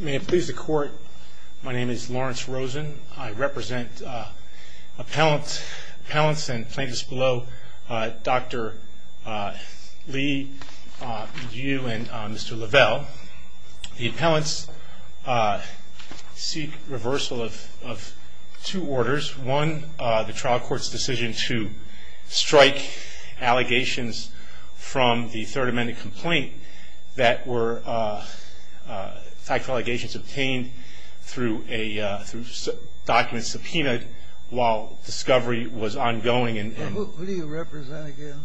May it please the Court, my name is Lawrence Rosen. I represent appellants and plaintiffs below Dr. Lee, you, and Mr. Lavelle. The appellants seek reversal of two orders. One, the trial court's decision to strike allegations from the Third Amendment complaint that were fact allegations obtained through a document subpoenaed while discovery was ongoing. Who do you represent again?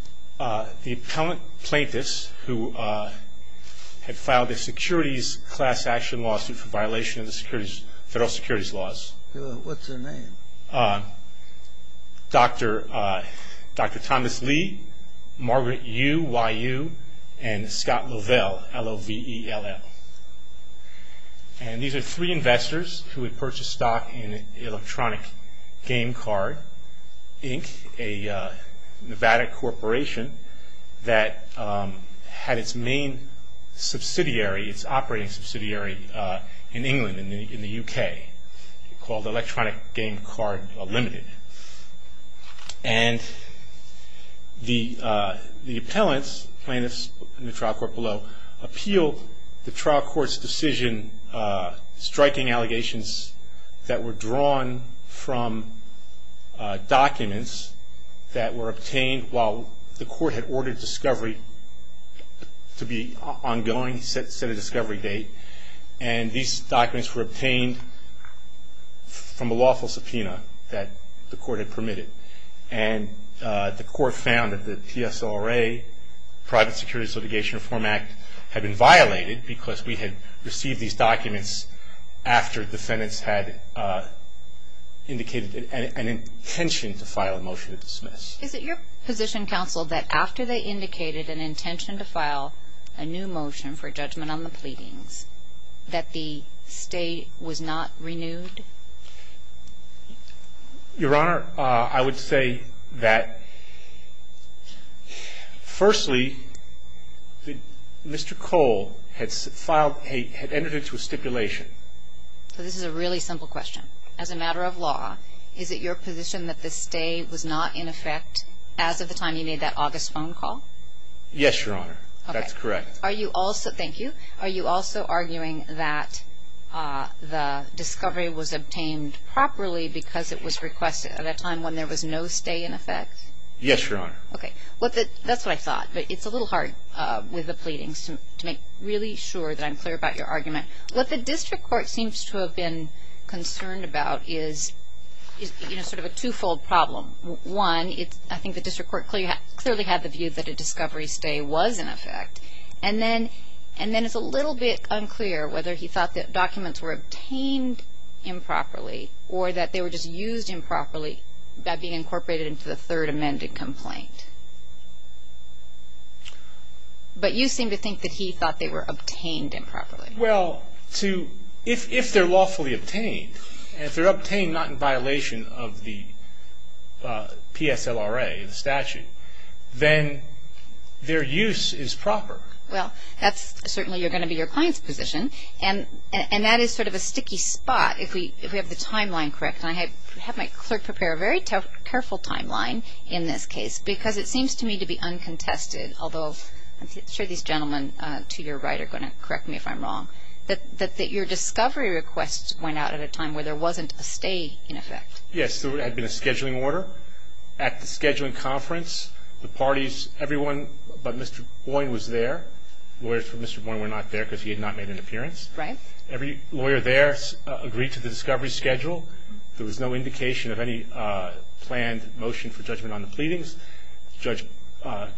The appellant plaintiffs who had filed a securities class action lawsuit for violation of the federal securities laws. What's their name? Dr. Thomas Lee, Margaret Yu, and Scott Lavelle, L-O-V-E-L-L. And these are three investors who had purchased stock in Electronic Game Card, Inc., a Nevada corporation that had its main subsidiary, its operating subsidiary, in England, in the U.K., called Electronic Game Card Limited. And the appellants, plaintiffs in the trial court below, appealed the trial court's decision striking allegations that were drawn from documents that were obtained while the court had ordered discovery to be ongoing, set a discovery date. And these documents were obtained from a lawful subpoena that the court had permitted. And the court found that the PSLRA, Private Securities Litigation Reform Act, had been violated because we had received these documents after defendants had indicated an intention to file a motion to dismiss. Is it your position, counsel, that after they indicated an intention to file a new motion for judgment on the pleadings, that the stay was not renewed? Your Honor, I would say that, firstly, Mr. Cole had filed, had entered into a stipulation. So this is a really simple question. As a matter of law, is it your position that the stay was not in effect as of the time you made that August phone call? Yes, Your Honor. Okay. That's correct. Thank you. Are you also arguing that the discovery was obtained properly because it was requested at a time when there was no stay in effect? Yes, Your Honor. Okay. That's what I thought. But it's a little hard with the pleadings to make really sure that I'm clear about your argument. What the district court seems to have been concerned about is, you know, sort of a twofold problem. One, I think the district court clearly had the view that a discovery stay was in effect. And then it's a little bit unclear whether he thought that documents were obtained improperly or that they were just used improperly by being incorporated into the third amended complaint. But you seem to think that he thought they were obtained improperly. Well, if they're lawfully obtained and if they're obtained not in violation of the PSLRA statute, then their use is proper. Well, that's certainly going to be your client's position. And that is sort of a sticky spot if we have the timeline correct. And I have my clerk prepare a very careful timeline in this case because it seems to me to be uncontested, although I'm sure these gentlemen to your right are going to correct me if I'm wrong, that your discovery requests went out at a time where there wasn't a stay in effect. Yes. There had been a scheduling order. At the scheduling conference, the parties, everyone but Mr. Boyne was there. Lawyers for Mr. Boyne were not there because he had not made an appearance. Right. Every lawyer there agreed to the discovery schedule. There was no indication of any planned motion for judgment on the pleadings. Judge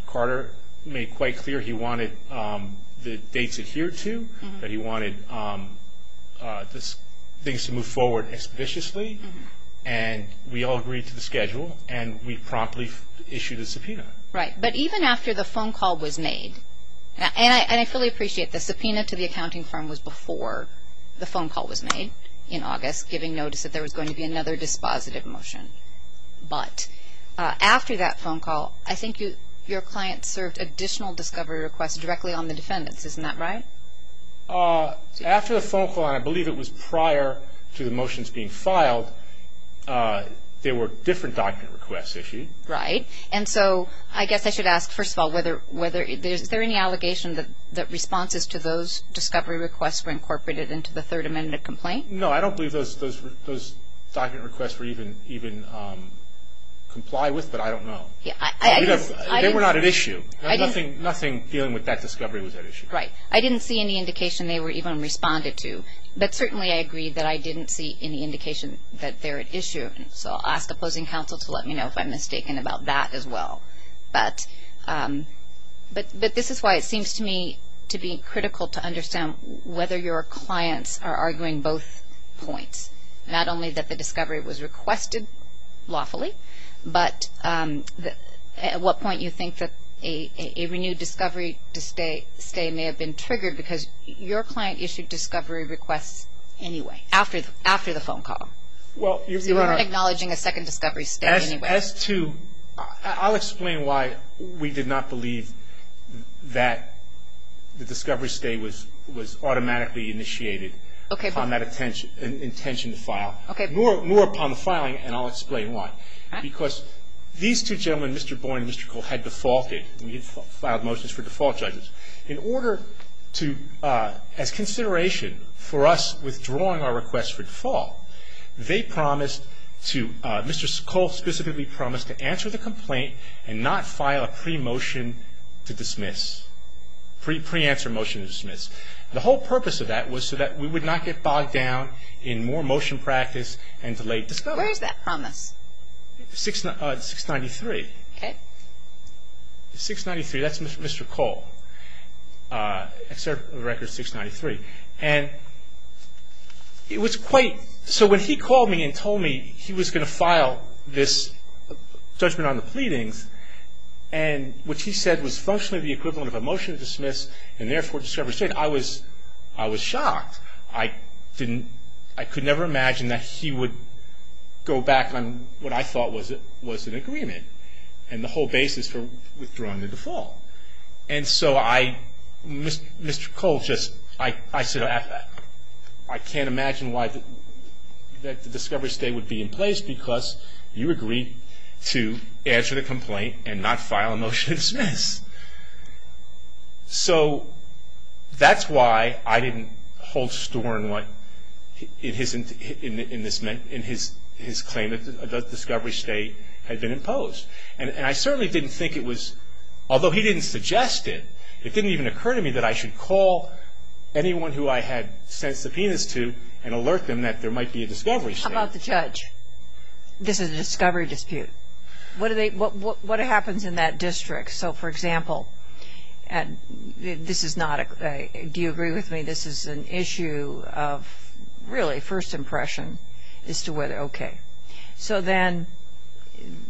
Carter made quite clear he wanted the dates adhered to, that he wanted things to move forward expeditiously, and we all agreed to the schedule and we promptly issued a subpoena. Right. But even after the phone call was made, and I fully appreciate this, the subpoena to the accounting firm was before the phone call was made in August, giving notice that there was going to be another dispositive motion. But after that phone call, I think your client served additional discovery requests directly on the defendants. Isn't that right? After the phone call, and I believe it was prior to the motions being filed, there were different document requests issued. Right. And so I guess I should ask, first of all, is there any allegation that responses to those discovery requests were incorporated into the Third Amendment complaint? No, I don't believe those document requests were even complied with, but I don't know. They were not at issue. Nothing dealing with that discovery was at issue. Right. I didn't see any indication they were even responded to. But certainly I agree that I didn't see any indication that they're at issue. So I'll ask the closing counsel to let me know if I'm mistaken about that as well. But this is why it seems to me to be critical to understand whether your clients are arguing both points, not only that the discovery was requested lawfully, but at what point you think that a renewed discovery stay may have been triggered, because your client issued discovery requests anyway, after the phone call. You weren't acknowledging a second discovery stay anyway. As to – I'll explain why we did not believe that the discovery stay was automatically initiated. Okay. Upon that intention to file. Okay. More upon the filing, and I'll explain why. Because these two gentlemen, Mr. Boyne and Mr. Cole, had defaulted. We had filed motions for default judges. In order to – as consideration for us withdrawing our request for default, they promised to – Mr. Cole specifically promised to answer the complaint and not file a pre-motion to dismiss – pre-answer motion to dismiss. The whole purpose of that was so that we would not get bogged down in more motion practice and delayed discovery. Where is that promise? 693. Okay. 693. That's Mr. Cole. I served on the record 693. And it was quite – so when he called me and told me he was going to file this judgment on the pleadings, and what he said was functionally the equivalent of a motion to dismiss and therefore discovery stay, I was – I was shocked. I didn't – I could never imagine that he would go back on what I thought was an agreement, and the whole basis for withdrawing the default. And so I – Mr. Cole just – I said, I can't imagine why the discovery stay would be in place because you agreed to answer the complaint and not file a motion to dismiss. So that's why I didn't hold store in what – in his claim that the discovery stay had been imposed. And I certainly didn't think it was – although he didn't suggest it, it didn't even occur to me that I should call anyone who I had sent subpoenas to and alert them that there might be a discovery stay. How about the judge? This is a discovery dispute. What do they – what happens in that district? So, for example, this is not a – do you agree with me? This is an issue of really first impression as to whether – okay. So then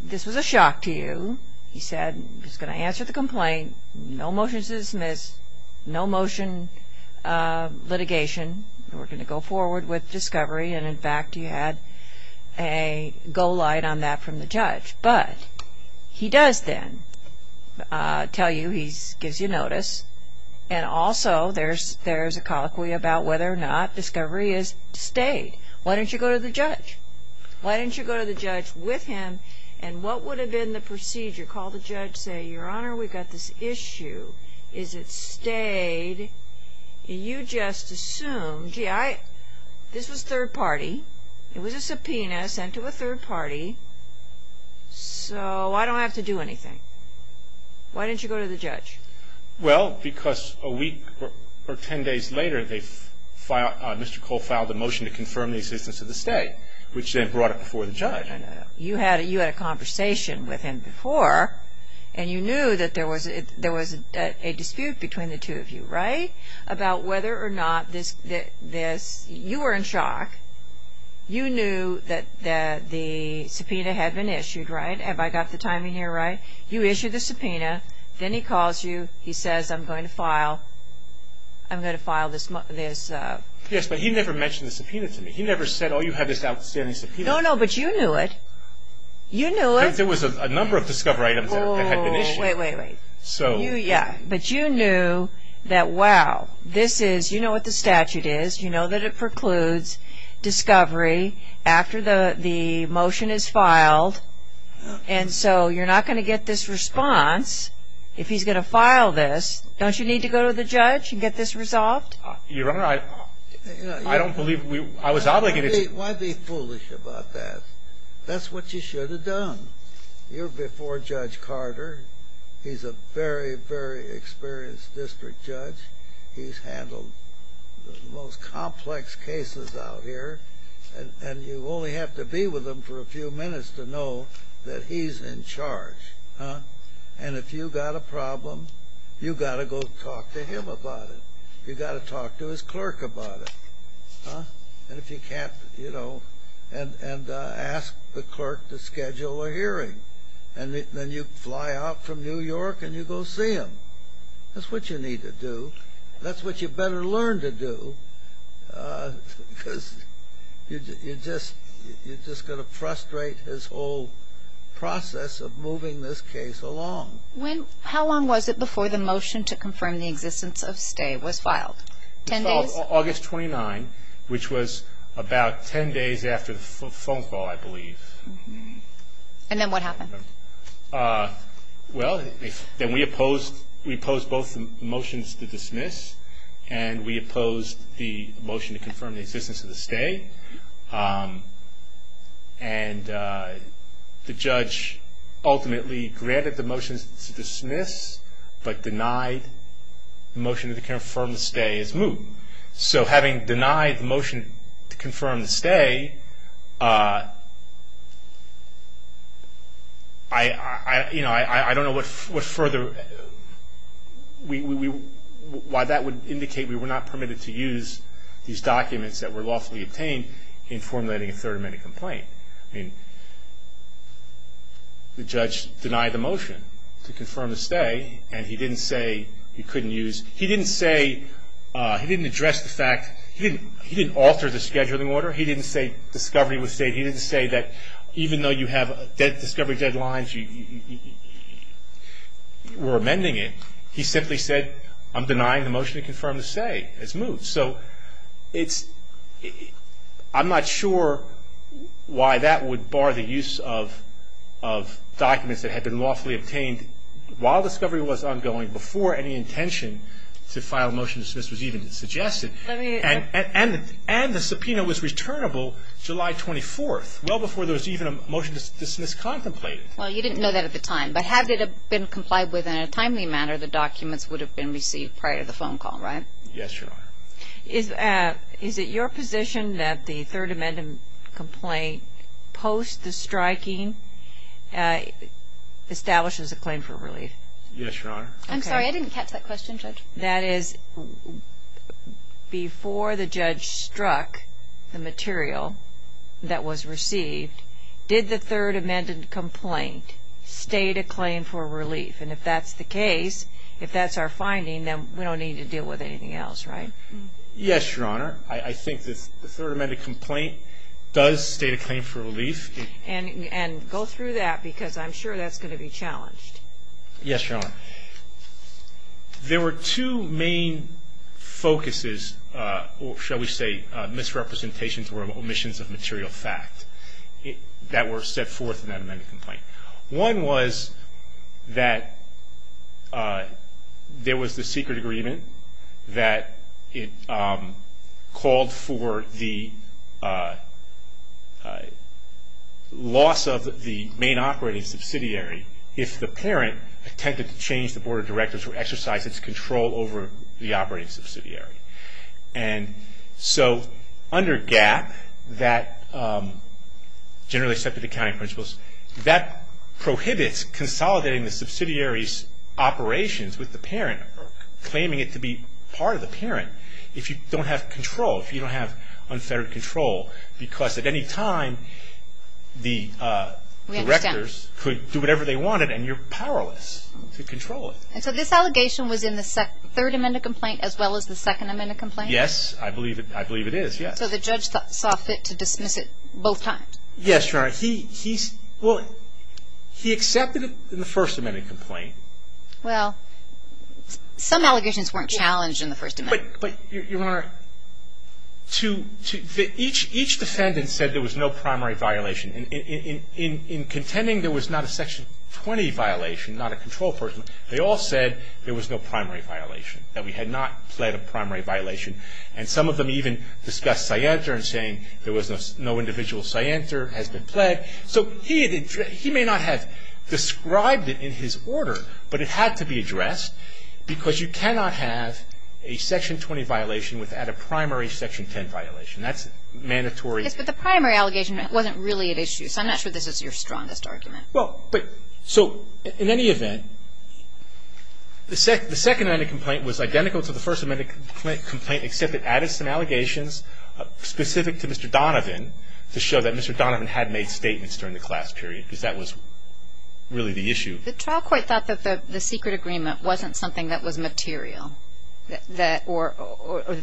this is a shock to you. He said he's going to answer the complaint, no motion to dismiss, no motion litigation, and we're going to go forward with discovery. And, in fact, he had a go light on that from the judge. But he does then tell you – he gives you notice, and also there's a colloquy about whether or not discovery is to stay. Why didn't you go to the judge? Why didn't you go to the judge with him? And what would have been the procedure? Call the judge, say, Your Honor, we've got this issue. Is it stayed? You just assumed – gee, I – this was third party. It was a subpoena sent to a third party. So I don't have to do anything. Why didn't you go to the judge? Well, because a week or ten days later they – Mr. Cole filed a motion to confirm the existence of the stay. Which then brought it before the judge. You had a conversation with him before, and you knew that there was a dispute between the two of you, right? About whether or not this – you were in shock. You knew that the subpoena had been issued, right? Have I got the timing here right? You issued the subpoena. Then he calls you. He says, I'm going to file this. Yes, but he never mentioned the subpoena to me. He never said, oh, you have this outstanding subpoena. No, no, but you knew it. You knew it. There was a number of discovery items that had been issued. Wait, wait, wait. Yeah, but you knew that, wow, this is – you know what the statute is. You know that it precludes discovery after the motion is filed. And so you're not going to get this response if he's going to file this. Don't you need to go to the judge and get this resolved? Your Honor, I don't believe we – I was obligated to – Why be foolish about that? That's what you should have done. You're before Judge Carter. He's a very, very experienced district judge. He's handled the most complex cases out here. And you only have to be with him for a few minutes to know that he's in charge. And if you've got a problem, you've got to go talk to him about it. You've got to talk to his clerk about it. And if you can't, you know, and ask the clerk to schedule a hearing. And then you fly out from New York and you go see him. That's what you need to do. That's what you better learn to do because you're just going to frustrate his whole process of moving this case along. How long was it before the motion to confirm the existence of stay was filed? It was filed August 29, which was about 10 days after the phone call, I believe. And then what happened? Well, then we opposed both the motions to dismiss and we opposed the motion to confirm the existence of the stay. And the judge ultimately granted the motion to dismiss but denied the motion to confirm the stay as moved. So having denied the motion to confirm the stay, I don't know what further why that would indicate we were not permitted to use these documents that were lawfully obtained in formulating a third amendment complaint. The judge denied the motion to confirm the stay and he didn't say he couldn't use He didn't say, he didn't address the fact, he didn't alter the scheduling order. He didn't say discovery was stayed. He didn't say that even though you have discovery deadlines, you were amending it. He simply said, I'm denying the motion to confirm the stay as moved. So I'm not sure why that would bar the use of documents that had been lawfully obtained while discovery was ongoing, before any intention to file a motion to dismiss was even suggested. And the subpoena was returnable July 24, well before there was even a motion to dismiss contemplated. Well, you didn't know that at the time. But had it been complied with in a timely manner, the documents would have been received prior to the phone call, right? Yes, Your Honor. Is it your position that the third amendment complaint post the striking establishes a claim for relief? Yes, Your Honor. I'm sorry, I didn't catch that question, Judge. That is, before the judge struck the material that was received, did the third amendment complaint state a claim for relief? And if that's the case, if that's our finding, then we don't need to deal with anything else, right? Yes, Your Honor. I think that the third amendment complaint does state a claim for relief. And go through that because I'm sure that's going to be challenged. Yes, Your Honor. There were two main focuses, or shall we say misrepresentations or omissions of material fact, that were set forth in that amendment complaint. One was that there was the secret agreement that it called for the loss of the main operating subsidiary if the parent attempted to change the board of directors or exercise its control over the operating subsidiary. And so under GAAP, that generally set to the county principles, that prohibits consolidating the subsidiary's operations with the parent, claiming it to be part of the parent if you don't have control, if you don't have unfettered control, because at any time the directors could do whatever they wanted and you're powerless to control it. And so this allegation was in the third amendment complaint as well as the second amendment complaint? Yes, I believe it is, yes. So the judge saw fit to dismiss it both times? Yes, Your Honor. He accepted it in the first amendment complaint. Well, some allegations weren't challenged in the first amendment. But, Your Honor, each defendant said there was no primary violation. In contending there was not a section 20 violation, not a control person, they all said there was no primary violation, that we had not pled a primary violation. And some of them even discussed cyancer and saying there was no individual cyancer has been pled. So he may not have described it in his order, but it had to be addressed, because you cannot have a section 20 violation without a primary section 10 violation. That's mandatory. But the primary allegation wasn't really at issue, so I'm not sure this is your strongest argument. Well, so in any event, the second amendment complaint was identical to the first amendment complaint, except it added some allegations specific to Mr. Donovan to show that Mr. Donovan had made statements during the class period, because that was really the issue. The trial court thought that the secret agreement wasn't something that was material, or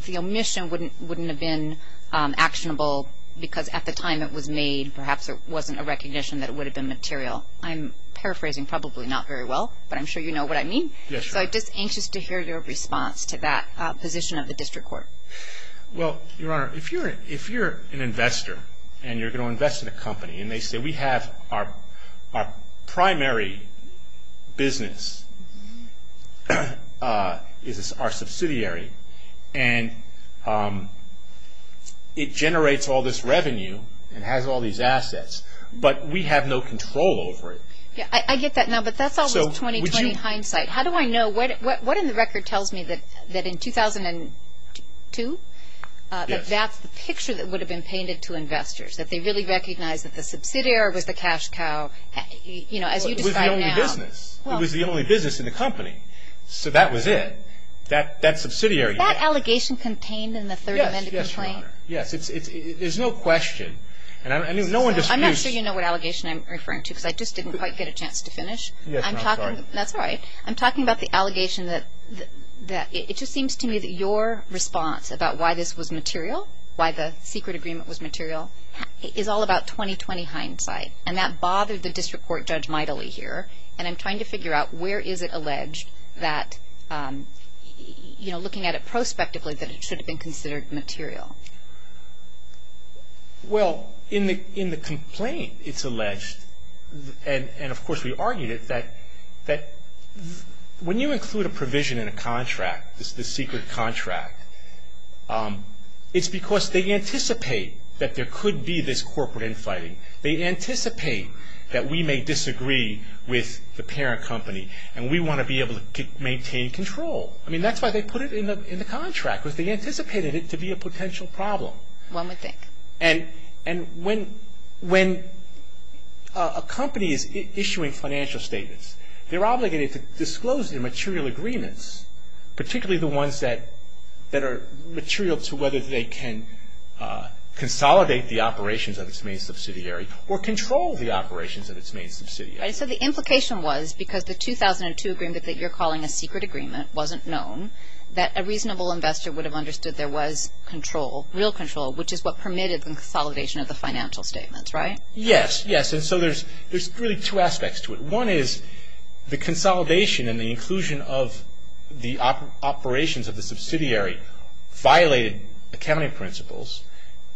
the omission wouldn't have been actionable, because at the time it was made, perhaps it wasn't a recognition that it would have been material. I'm paraphrasing probably not very well, but I'm sure you know what I mean. Yes, Your Honor. So I'm just anxious to hear your response to that position of the district court. Well, Your Honor, if you're an investor, and you're going to invest in a company, and they say we have our primary business is our subsidiary, and it generates all this revenue and has all these assets, but we have no control over it. Yes, I get that now, but that's all in 20-20 hindsight. How do I know? What in the record tells me that in 2002, that that's the picture that would have been painted to investors, that they really recognized that the subsidiary was the cash cow, you know, as you describe now. It was the only business. It was the only business in the company, so that was it. That subsidiary. Was that allegation contained in the third amendment complaint? Yes, Your Honor. Yes, there's no question. I'm not sure you know what allegation I'm referring to, because I just didn't quite get a chance to finish. Yes, Your Honor. That's right. I'm talking about the allegation that it just seems to me that your response about why this was material, why the secret agreement was material, is all about 20-20 hindsight, and that bothers the district court judge mightily here, and I'm trying to figure out where is it alleged that, you know, looking at it prospectively, that it should have been considered material. Well, in the complaint, it's alleged, and of course we argued it, that when you include a provision in a contract, this secret contract, it's because they anticipate that there could be this corporate infighting. They anticipate that we may disagree with the parent company, and we want to be able to maintain control. I mean, that's why they put it in the contract, because they anticipated it to be a potential problem. Well, let me think. And when a company is issuing financial statements, they're obligated to disclose the material agreements, particularly the ones that are material to whether they can consolidate the operations of its main subsidiary or control the operations of its main subsidiary. Right. So the implication was, because the 2002 agreement that you're calling a secret agreement wasn't known, that a reasonable investor would have understood there was control, real control, which is what permitted the consolidation of the financial statements, right? Yes, yes. And so there's really two aspects to it. One is the consolidation and the inclusion of the operations of the subsidiary violated accounting principles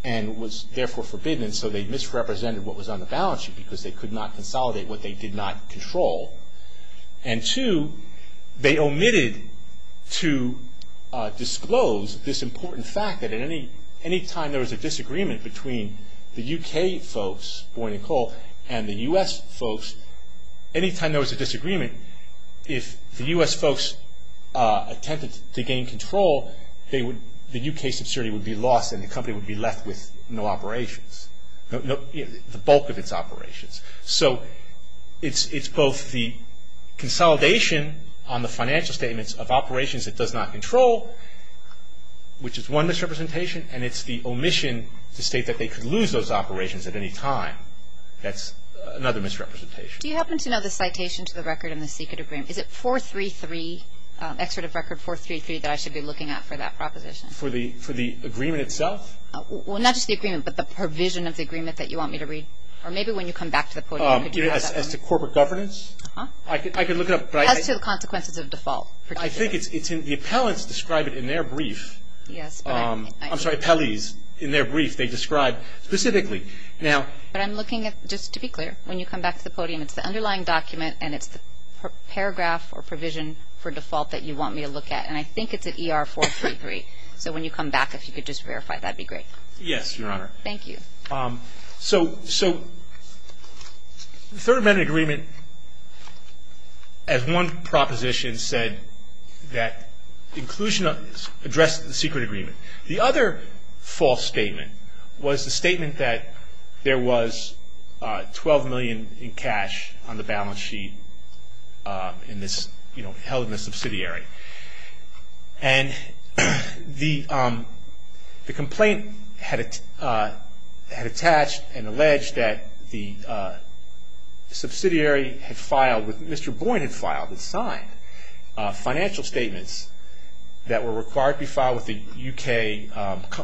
and was therefore forbidden, so they misrepresented what was on the balance sheet because they could not consolidate what they did not control. And two, they omitted to disclose this important fact that any time there was a disagreement between the UK folks, Boyn and Cole, and the U.S. folks, any time there was a disagreement, if the U.S. folks attempted to gain control, the UK subsidiary would be lost and the company would be left with no operations, the bulk of its operations. So it's both the consolidation on the financial statements of operations it does not control, which is one misrepresentation, and it's the omission to state that they could lose those operations at any time. That's another misrepresentation. Do you happen to know the citation to the record in the secret agreement? Is it 433, excerpt of record 433, that I should be looking at for that proposition? For the agreement itself? Well, not just the agreement, but the provision of the agreement that you want me to read. Or maybe when you come back to the podium. As to corporate governance? Uh-huh. I can look it up. As to the consequences of default. I think the appellants describe it in their brief. Yes. I'm sorry, appellees, in their brief, they describe specifically. But I'm looking at, just to be clear, when you come back to the podium, it's the underlying document and it's the paragraph or provision for default that you want me to look at. And I think it's at ER 433. So when you come back, if you could just verify that, that would be great. Yes, Your Honor. Thank you. So the third amendment agreement, as one proposition said, that inclusion addressed the secret agreement. The other false statement was the statement that there was $12 million in cash on the balance sheet in this, you know, held in this subsidiary. And the complaint had attached and alleged that the subsidiary had filed, Mr. Boyd had filed, had signed financial statements that were required to be filed with the U.K.,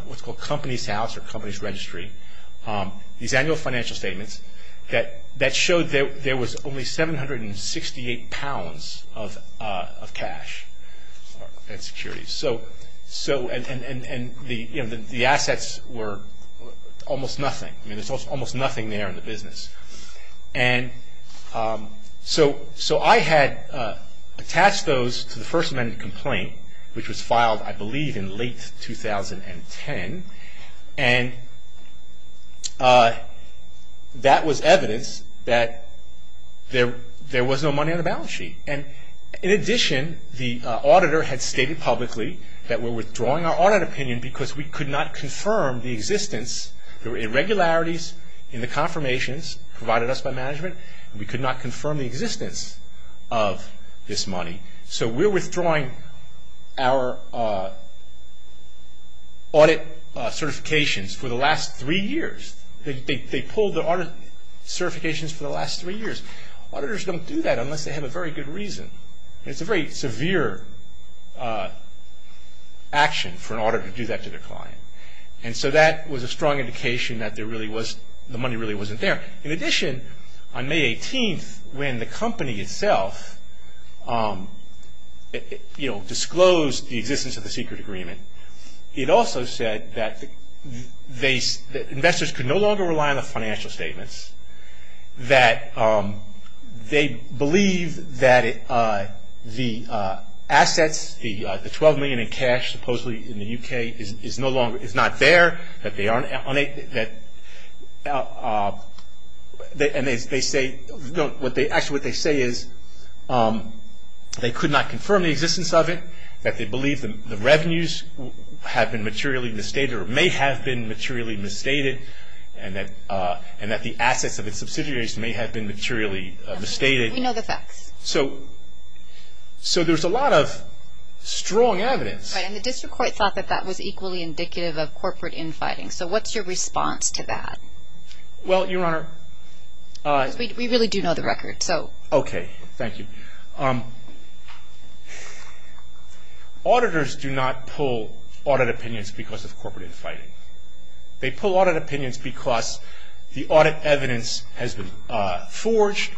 what's called Companies House or Companies Registry. These annual financial statements that showed there was only 768 pounds of cash in securities. So, and the assets were almost nothing. I mean, there's almost nothing there in the business. And so I had attached those to the first amendment complaint, which was filed, I believe, in late 2010. And that was evidence that there was no money on the balance sheet. And in addition, the auditor had stated publicly that we're withdrawing our audit opinion because we could not confirm the existence, the irregularities in the confirmations provided us by management, we could not confirm the existence of this money. So, we're withdrawing our audit certifications for the last three years. They pulled the audit certifications for the last three years. Auditors don't do that unless they have a very good reason. It's a very severe action for an auditor to do that to their client. And so that was a strong indication that there really was, the money really wasn't there. In addition, on May 18th, when the company itself, you know, disclosed the existence of the secret agreement, it also said that investors could no longer rely on the financial statements, that they believed that the assets, the 12 million in cash, supposedly in the UK, is no longer, is not there, that they aren't, and they say, actually what they say is they could not confirm the existence of it, that they believe the revenues have been materially misstated or may have been materially misstated, and that the assets of the subsidiaries may have been materially misstated. So, there's a lot of strong evidence. And the district court thought that that was equally indicative of corporate infighting. So, what's your response to that? Well, your Honor. We really do know the record, so. Okay, thank you. Auditors do not pull audit opinions because of corporate infighting. They pull audit opinions because the audit evidence has been forged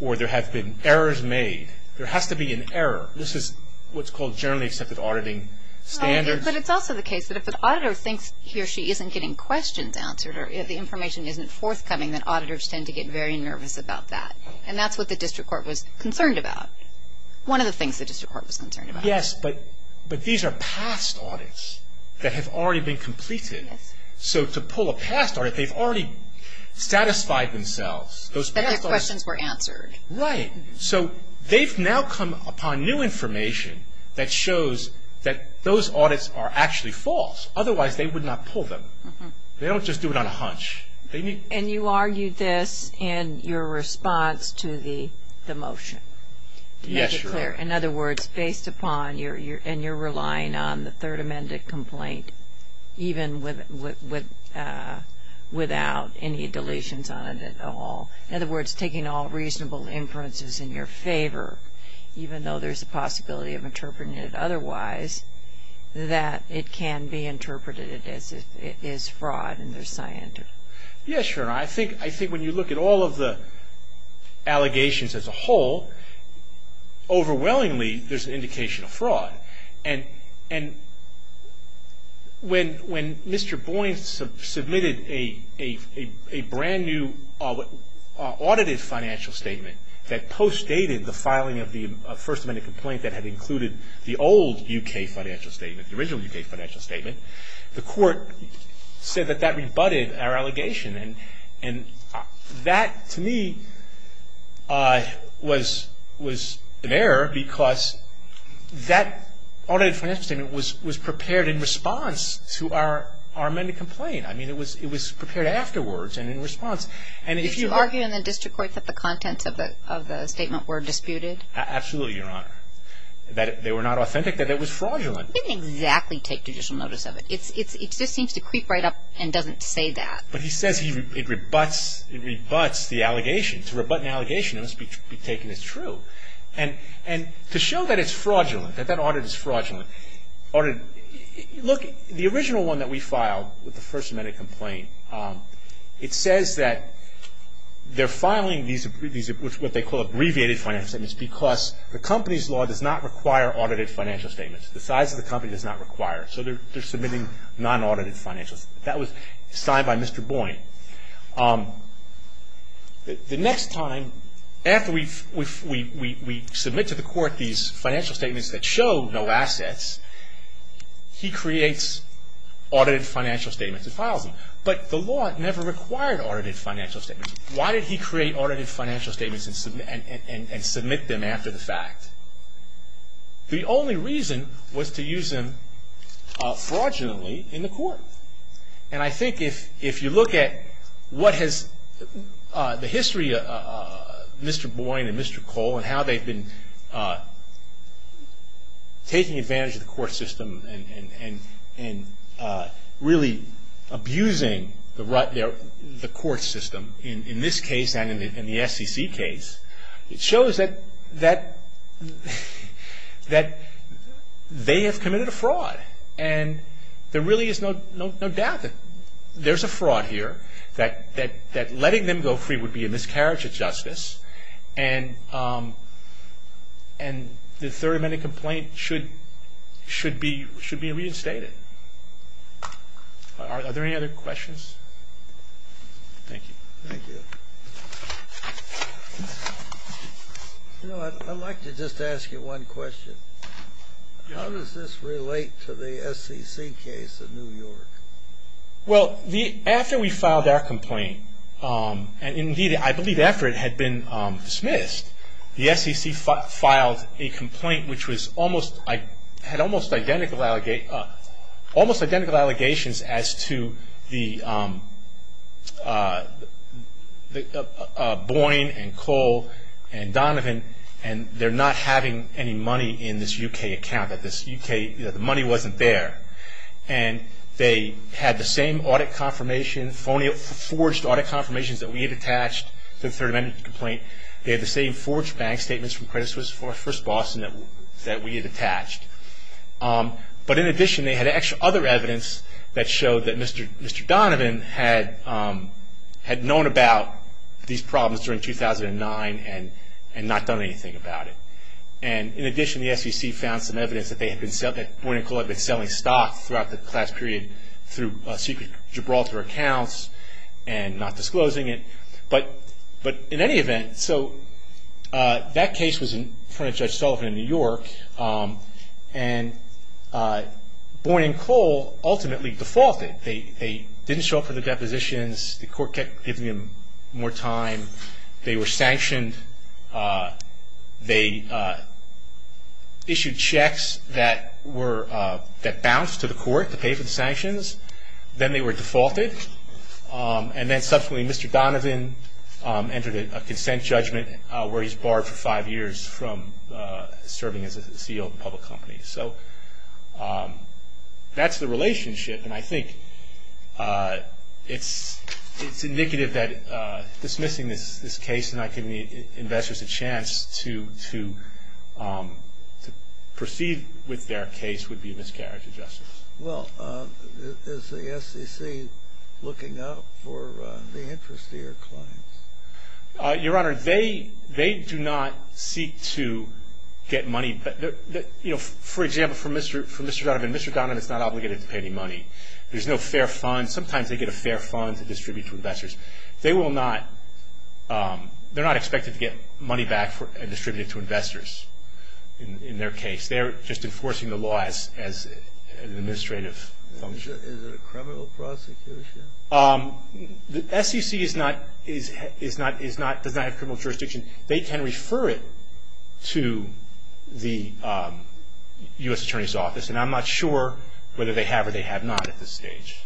or there have been errors made. There has to be an error. This is what's called generally accepted auditing standards. But it's also the case that if an auditor thinks he or she isn't getting questions answered or if the information isn't forthcoming, then auditors tend to get very nervous about that. And that's what the district court was concerned about. One of the things the district court was concerned about. Yes, but these are past audits that have already been completed. So, to pull a past audit, they've already satisfied themselves. The questions were answered. Right. So, they've now come upon new information that shows that those audits are actually false. Otherwise, they would not pull them. They don't just do it on a hunch. And you argue this in your response to the motion? Yes, Your Honor. In other words, based upon your relying on the third amended complaint, even without any deletions on it at all. In other words, taking all reasonable inferences in your favor, even though there's a possibility of interpreting it otherwise, that it can be interpreted as fraud in their science. Yes, Your Honor. I think when you look at all of the allegations as a whole, overwhelmingly there's an indication of fraud. And when Mr. Boyne submitted a brand new audited financial statement that postdated the filing of the first amended complaint that had included the old U.K. financial statement, the original U.K. financial statement, the court said that that rebutted our allegation. And that, to me, was an error because that audited financial statement was prepared in response to our amended complaint. I mean, it was prepared afterwards and in response. Did you argue in the district court that the contents of the statement were disputed? Absolutely, Your Honor. That they were not authentic, that it was fraudulent. He didn't exactly take judicial notice of it. It just seems to creep right up and doesn't say that. But he says it rebuts the allegations. To rebut an allegation, it must be taken as true. And to show that it's fraudulent, that that audit is fraudulent, look, the original one that we filed, the first amended complaint, it says that they're filing what they call abbreviated financial statements because the company's law does not require audited financial statements. The size of the company does not require it. So they're submitting non-audited financial statements. That was signed by Mr. Boynt. The next time, after we submit to the court these financial statements that show no assets, he creates audited financial statements and files them. But the law never required audited financial statements. Why did he create audited financial statements and submit them after the fact? The only reason was to use them fraudulently in the court. And I think if you look at what has the history of Mr. Boynt and Mr. Cole and how they've been taking advantage of the court system and really abusing the court system in this case and in the SEC case, it shows that they have committed a fraud. And there really is no doubt that there's a fraud here, that letting them go free would be a miscarriage of justice, and the third amended complaint should be reinstated. Are there any other questions? Thank you. Thank you. You know, I'd like to just ask you one question. How does this relate to the SEC case in New York? Well, after we filed our complaint, and indeed I believe after it had been dismissed, the SEC filed a complaint which had almost identical allegations as to Boynt and Cole and Donovan, and they're not having any money in this U.K. account. The money wasn't there. And they had the same forged audit confirmations that we had attached to the third amended complaint. They had the same forged bank statements from Credit Suisse for our first Boston that we had attached. But in addition, they had extra other evidence that showed that Mr. Donovan had known about these problems during 2009 and not done anything about it. And in addition, the SEC found some evidence that Boynt and Cole had been selling stock throughout the class period through secret Gibraltar accounts and not disclosing it. But in any event, so that case was in front of Judge Sullivan in New York, and Boynt and Cole ultimately defaulted. They didn't show up for the depositions. The court kept giving them more time. They were sanctioned. They issued checks that bounced to the court to pay for the sanctions. Then they were defaulted. And then subsequently, Mr. Donovan entered a consent judgment where he's barred for five years from serving as a CEO of a public company. So that's the relationship, and I think it's indicative that dismissing this case and not giving investors a chance to proceed with their case would be miscarriage of justice. Well, is the SEC looking up for the interest they are claiming? Your Honor, they do not seek to get money. For example, for Mr. Donovan, Mr. Donovan is not obligated to pay any money. There's no fair fund. Sometimes they get a fair fund to distribute to investors. They're not expected to get money back and distribute it to investors in their case. They're just enforcing the laws as an administrative function. Is it a criminal prosecution? The SEC does not have criminal jurisdiction. They can refer it to the U.S. Attorney's Office, and I'm not sure whether they have or they have not at this stage.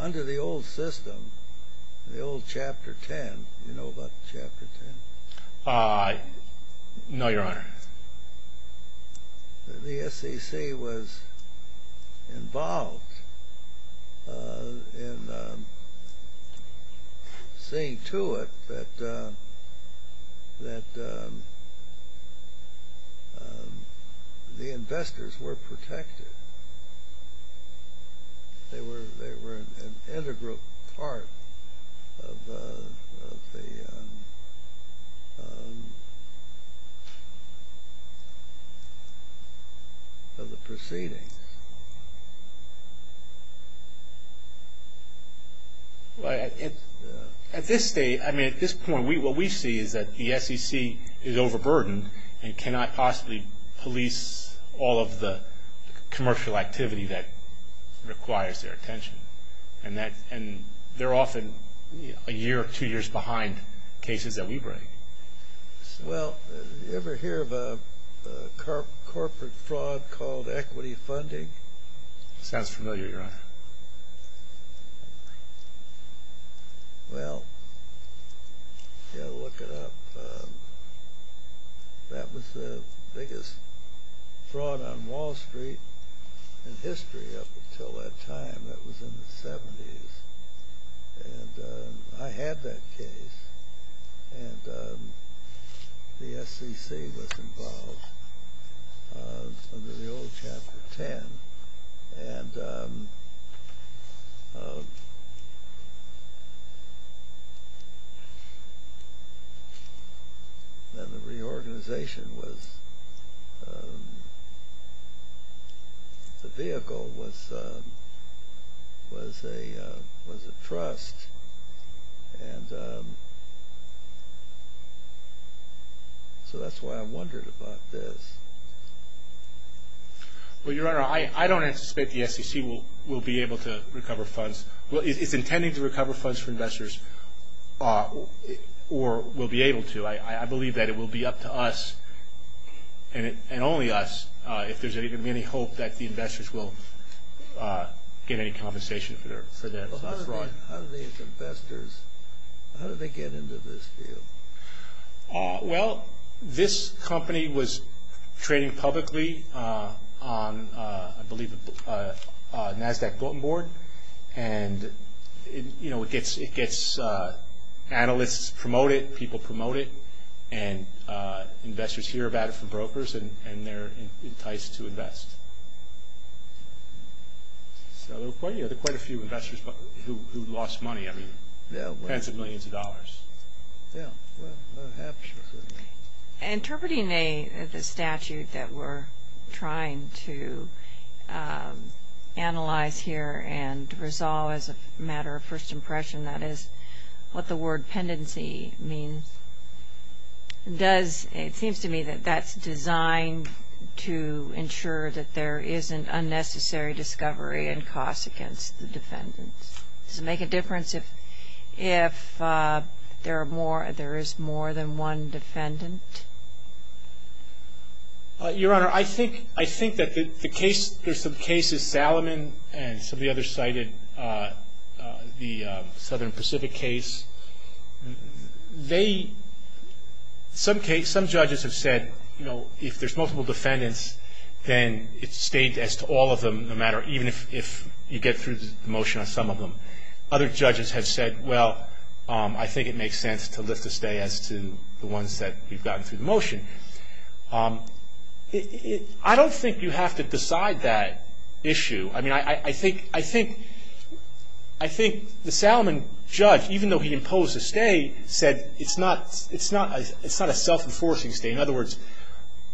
Under the old system, the old Chapter 10, do you know about Chapter 10? No, Your Honor. The SEC was involved in seeing to it that the investors were protected. They were an integral part of the proceeding. At this point, what we see is that the SEC is overburdened and cannot possibly police all of the commercial activity that requires their attention, and they're often a year or two years behind cases that we bring. Well, did you ever hear of a corporate fraud called equity funding? Sounds familiar, Your Honor. Well, you've got to look it up. That was the biggest fraud on Wall Street in history up until that time. That was in the 70s, and I had that case, and the SEC was involved under the old Chapter 10. And the organization was—the vehicle was a trust, and so that's why I wondered about this. Well, Your Honor, I don't anticipate the SEC will be able to recover funds. Well, it's intending to recover funds for investors, or will be able to. I believe that it will be up to us, and only us, if there's any hope that the investors will get any compensation for that fraud. How did these investors—how did they get into this deal? Well, this company was trading publicly on, I believe, a NASDAQ Golden Board, and it gets analysts to promote it, people promote it, and investors hear about it from brokers, and they're enticed to invest. So there were quite a few investors who lost money, I mean, tens of millions of dollars. Yeah, perhaps. Interpreting a statute that we're trying to analyze here, and resolve as a matter of first impression, that is what the word pendency means, does—it seems to me that that's designed to ensure that there isn't unnecessary discovery and cost against the defendant. Does it make a difference if there is more than one defendant? Your Honor, I think that the case—there's some cases, and some of the others cited the Southern Pacific case. They—some cases, some judges have said, you know, if there's multiple defendants, then it stays as to all of them, no matter—even if you get through the motion on some of them. Other judges have said, well, I think it makes sense to let this stay as to the ones that you've gotten through the motion. I don't think you have to decide that issue. I mean, I think the Salomon judge, even though he imposed a stay, said it's not a self-enforcing stay. In other words,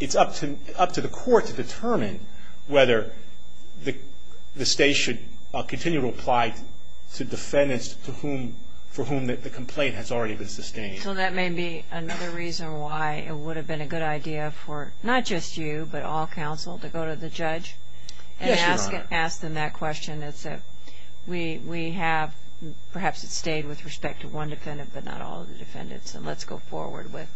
it's up to the court to determine whether the stay should continue to apply to defendants for whom the complaint has already been sustained. So that may be another reason why it would have been a good idea for not just you, but all counsel, to go to the judge? Yes, Your Honor. And ask them that question, is that we have perhaps a stay with respect to one defendant, but not all of the defendants. And let's go forward with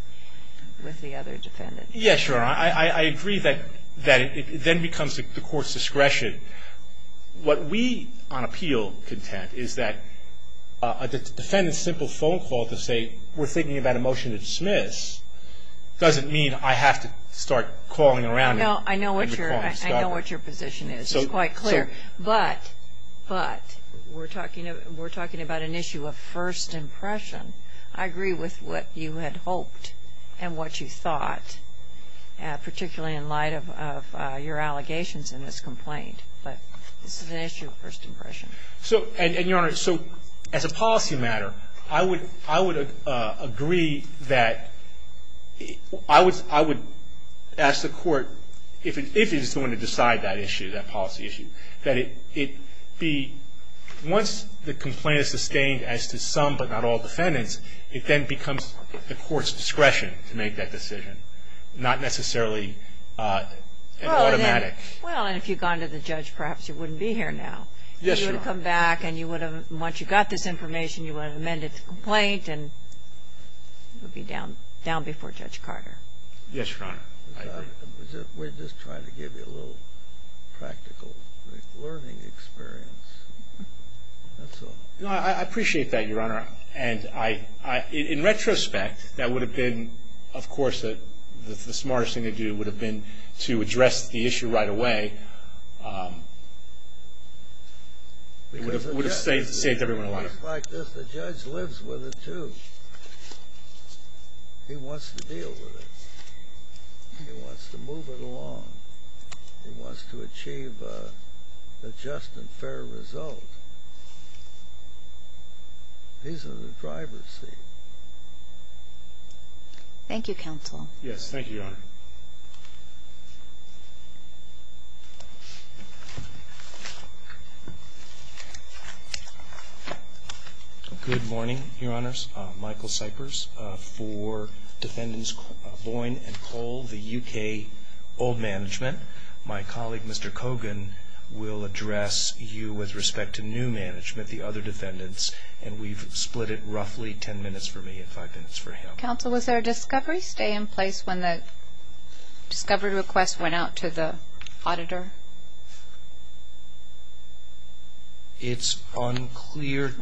the other defendants. Yes, Your Honor. I agree that it then becomes the court's discretion. What we on appeal contend is that a defendant's simple phone call to say, we're thinking about a motion to dismiss, doesn't mean I have to start calling around. I know what your position is. It's quite clear. But we're talking about an issue of first impression. I agree with what you had hoped and what you thought, particularly in light of your allegations in this complaint. But it's an issue of first impression. And, Your Honor, so as a policy matter, I would agree that I would ask the court if it is going to decide that issue, that policy issue, that it be, once the complaint is sustained as to some but not all defendants, it then becomes the court's discretion to make that decision, not necessarily an automatic. Well, and if you'd gone to the judge, perhaps it wouldn't be here now. Yes, Your Honor. You would have come back and you would have, once you got this information, you would have amended the complaint and it would be down before Judge Carter. Yes, Your Honor. We're just trying to give you a little practical learning experience. No, I appreciate that, Your Honor. And in retrospect, that would have been, of course, the smartest thing to do would have been to address the issue right away. It would have saved everyone a lot of time. In fact, the judge lives with it, too. He wants to deal with it. He wants to move it along. He wants to achieve a just and fair result. He's in the driver's seat. Yes, thank you, Your Honor. Good morning, Your Honors. Michael Cyprus for Defendants Boyne and Cole, the U.K. Old Management. My colleague, Mr. Cogan, will address you with respect to new management, the other defendants, and we've split it roughly ten minutes for me and five minutes for him. Counsel, was there a discovery stay in place when the discovery request went out to the auditor? It's unclear to me.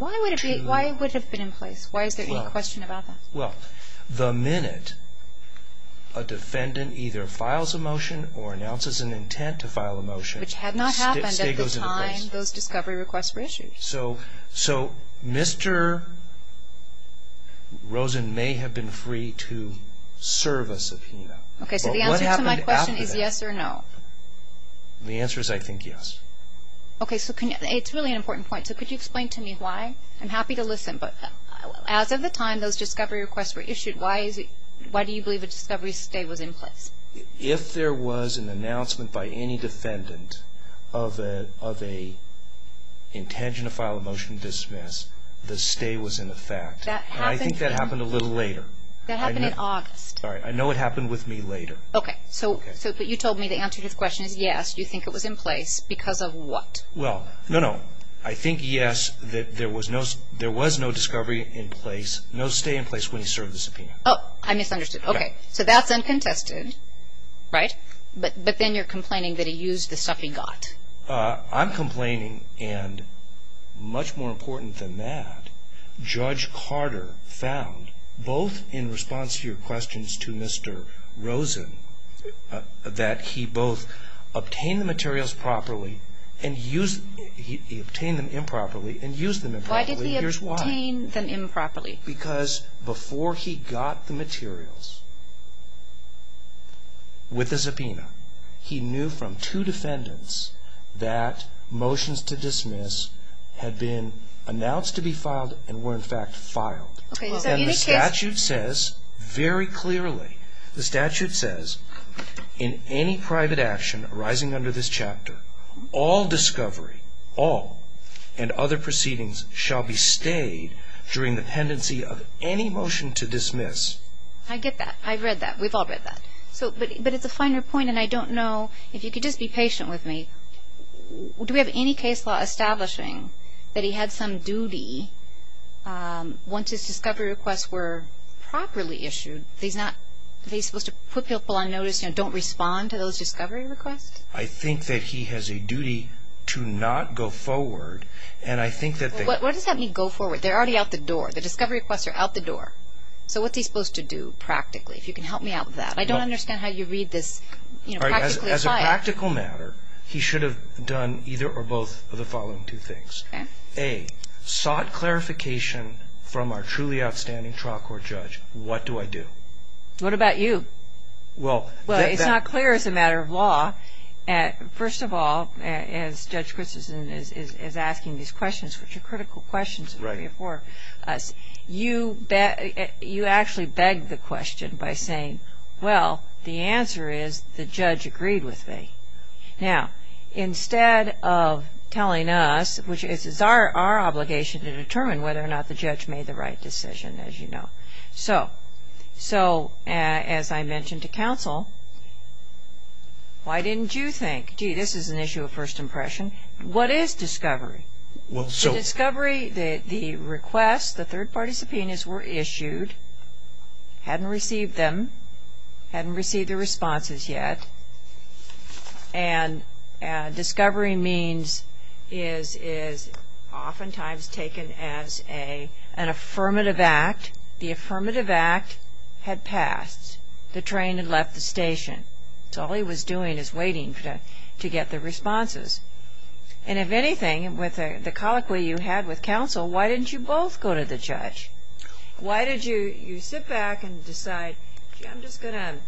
Why would it have been in place? Why is there any question about that? Well, the minute a defendant either files a motion or announces an intent to file a motion, which had not happened at the time those discovery requests were issued. So Mr. Rosen may have been free to serve us, Athena. Okay, so the answer to my question is yes or no. The answer is I think yes. Okay, so it's a really important point, so could you explain to me why? I'm happy to listen, but as of the time those discovery requests were issued, why do you believe a discovery stay was in place? If there was an announcement by any defendant of an intent to file a motion to dismiss, the stay was in effect. I think that happened a little later. That happened in August. Sorry, I know it happened with me later. Okay, so you told me the answer to this question is yes. You think it was in place because of what? Well, no, no. I think yes, that there was no discovery in place, no stay in place when he served his subpoena. Oh, I misunderstood. Okay, so that's uncontested, right? But then you're complaining that he used the stuff he got. I'm complaining, and much more important than that, Judge Carter found both in response to your questions to Mr. Rosen that he both obtained the materials properly and he obtained them improperly and used them improperly, and here's why. Why did he obtain them improperly? Because before he got the materials with the subpoena, he knew from two defendants that motions to dismiss had been announced to be filed and were, in fact, filed. And the statute says very clearly, the statute says in any private action arising under this chapter, all discovery, all, and other proceedings shall be stayed during the pendency of any motion to dismiss. I get that. I read that. We've all read that. But it's a finer point, and I don't know, if you could just be patient with me, do we have any case law establishing that he had some duty once his discovery requests were properly issued? Are they supposed to put people on notice and don't respond to those discovery requests? I think that he has a duty to not go forward, and I think that they What does that mean, go forward? They're already out the door. The discovery requests are out the door. So what's he supposed to do, practically, if you can help me out with that? I don't understand how you read this practically. As a practical matter, he should have done either or both of the following two things. A, sought clarification from our truly outstanding trial court judge. What do I do? What about you? Well, it's not clear as a matter of law. First of all, as Judge Christensen is asking these questions, which are critical questions for us, you actually beg the question by saying, well, the answer is the judge agreed with me. Now, instead of telling us, which is our obligation to determine whether or not the judge made the right decision, as you know. So, as I mentioned to counsel, why didn't you think, gee, this is an issue of first impression, what is discovery? The discovery, the request, the third-party subpoenas were issued. Hadn't received them. Hadn't received the responses yet. And discovery means is oftentimes taken as an affirmative act. The affirmative act had passed. The train had left the station. So all he was doing is waiting to get the responses. And if anything, with the colloquy you had with counsel, why didn't you both go to the judge? Why did you sit back and decide, gee, I'm just going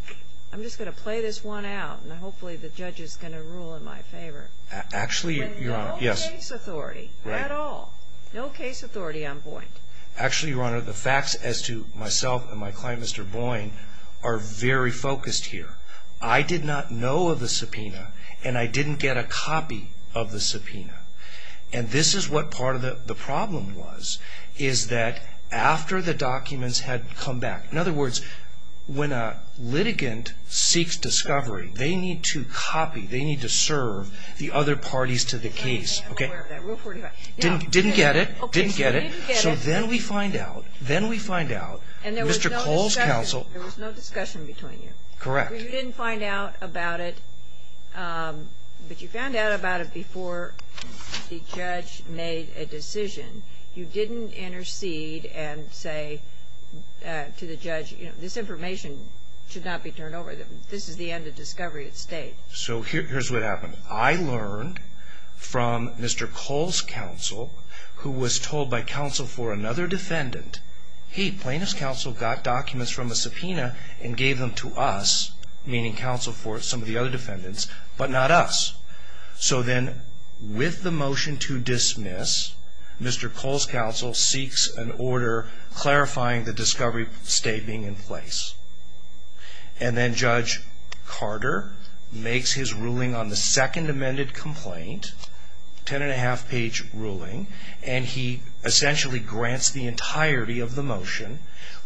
to play this one out, and hopefully the judge is going to rule in my favor? Actually, Your Honor, yes. No case authority at all. No case authority on Boyne. Actually, Your Honor, the facts as to myself and my client, Mr. Boyne, are very focused here. I did not know of the subpoena, and I didn't get a copy of the subpoena. And this is what part of the problem was, is that after the documents had come back. In other words, when a litigant seeks discovery, they need to copy, they need to serve the other parties to the case. Didn't get it. Didn't get it. So then we find out, then we find out, Mr. Cole's counsel. There was no discussion between you. Correct. You didn't find out about it, but you found out about it before the judge made a decision. You didn't intercede and say to the judge, you know, this information should not be turned over. This is the end of discovery of state. So here's what happened. I learned from Mr. Cole's counsel, who was told by counsel for another defendant. He, plaintiff's counsel, got documents from a subpoena and gave them to us, meaning counsel for some of the other defendants, but not us. So then with the motion to dismiss, Mr. Cole's counsel seeks an order clarifying the discovery state being in place. And then Judge Carter makes his ruling on the second amended complaint, ten and a half page ruling, and he essentially grants the entirety of the motion,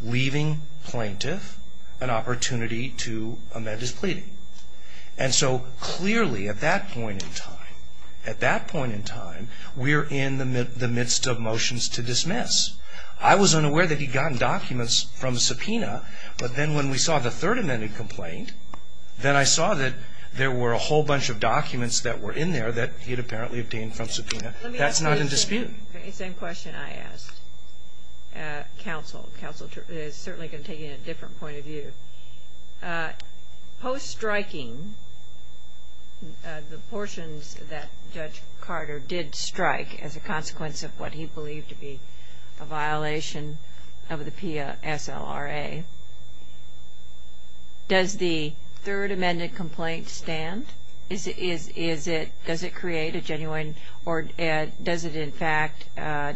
leaving plaintiff an opportunity to amend his pleading. And so clearly at that point in time, at that point in time, we're in the midst of motions to dismiss. I was unaware that he'd gotten documents from the subpoena, but then when we saw the third amended complaint, then I saw that there were a whole bunch of documents that were in there that he'd apparently obtained from subpoena. That's not in dispute. The same question I asked. Counsel is certainly going to take it in a different point of view. Post-striking, the portions that Judge Carter did strike as a consequence of what he believed to be a violation of the PSLRA, Does the third amended complaint stand? Does it create a genuine or does it, in fact,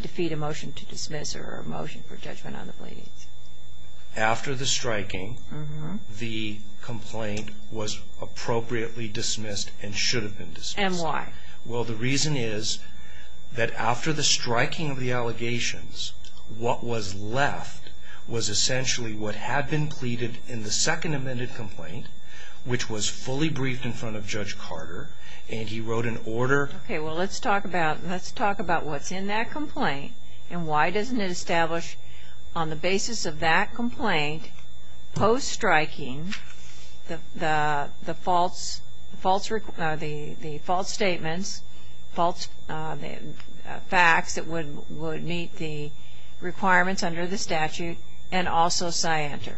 defeat a motion to dismiss or a motion for judgment on the pleading? After the striking, the complaint was appropriately dismissed and should have been dismissed. And why? Well, the reason is that after the striking of the allegations, what was left was essentially what had been pleaded in the second amended complaint, which was fully briefed in front of Judge Carter, and he wrote an order. Okay, well, let's talk about what's in that complaint And why doesn't it establish on the basis of that complaint, post-striking, the false statements, false facts that would meet the requirements under the statute, and also scienter?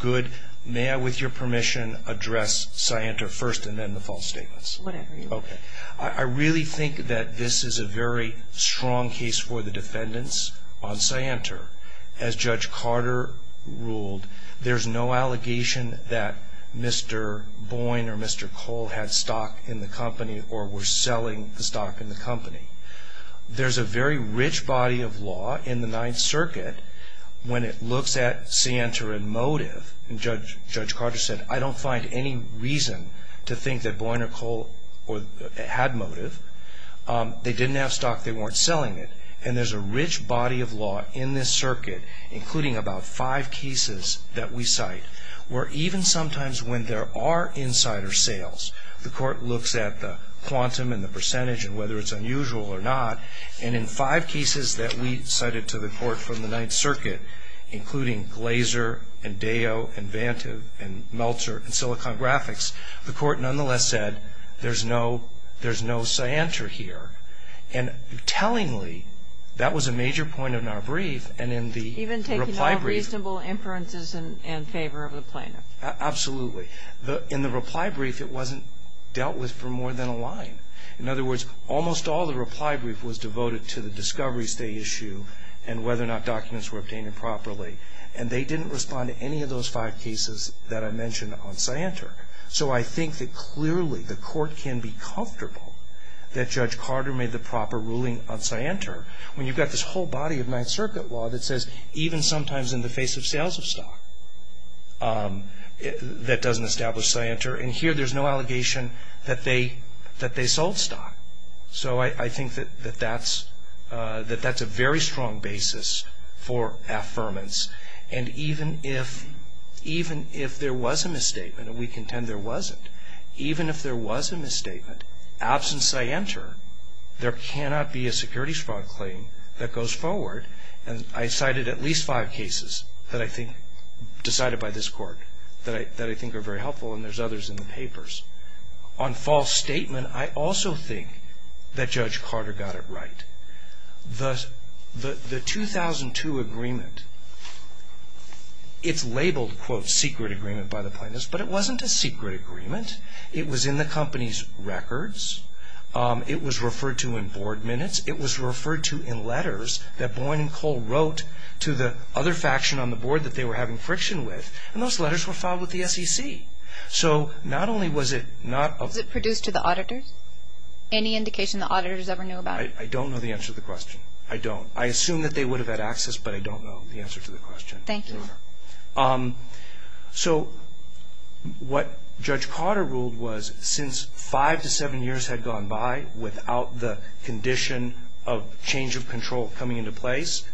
Good. May I, with your permission, address scienter first and then the false statements? Whatever you want. Okay. I really think that this is a very strong case for the defendants on scienter. As Judge Carter ruled, there's no allegation that Mr. Boyne or Mr. Cole had stock in the company or were selling the stock in the company. There's a very rich body of law in the Ninth Circuit when it looks at scienter and motive. And Judge Carter said, I don't find any reason to think that Boyne or Cole had motive. They didn't have stock. They weren't selling it. And there's a rich body of law in this circuit, including about five cases that we cite, where even sometimes when there are insider sales, the court looks at the quantum and the percentage and whether it's unusual or not. And in five cases that we cited to the court from the Ninth Circuit, including Glaser and Deo and Vantive and Meltzer and Silicon Graphics, the court nonetheless said, there's no scienter here. And tellingly, that was a major point in our brief and in the reply brief. Even taking all reasonable inferences in favor of the plaintiff. Absolutely. In the reply brief, it wasn't dealt with for more than a line. In other words, almost all the reply brief was devoted to the discoveries they issued and whether or not documents were obtained properly. And they didn't respond to any of those five cases that I mentioned on scienter. So I think that clearly the court can be comfortable that Judge Carter made the proper ruling on scienter, when you've got this whole body of Ninth Circuit law that says, even sometimes in the face of sales of stock, that doesn't establish scienter. And here there's no allegation that they sold stock. So I think that that's a very strong basis for affirmance. And even if there was a misstatement, and we contend there wasn't, even if there was a misstatement, absence of scienter, there cannot be a securities fraud claim that goes forward. And I cited at least five cases that I think, decided by this court, that I think are very helpful, and there's others in the papers. On false statement, I also think that Judge Carter got it right. The 2002 agreement, it's labeled, quote, secret agreement by the plaintiffs, but it wasn't a secret agreement. It was in the company's records. It was referred to in board minutes. It was referred to in letters that Boyd and Cole wrote to the other faction on the board that they were having friction with. And those letters were filed with the SEC. So not only was it not a- Was it produced to the auditors? Any indication the auditors ever knew about it? I don't know the answer to the question. I don't. I assume that they would have had access, but I don't know the answer to the question. Thank you. So what Judge Carter ruled was, since five to seven years had gone by without the condition of change of control coming into place,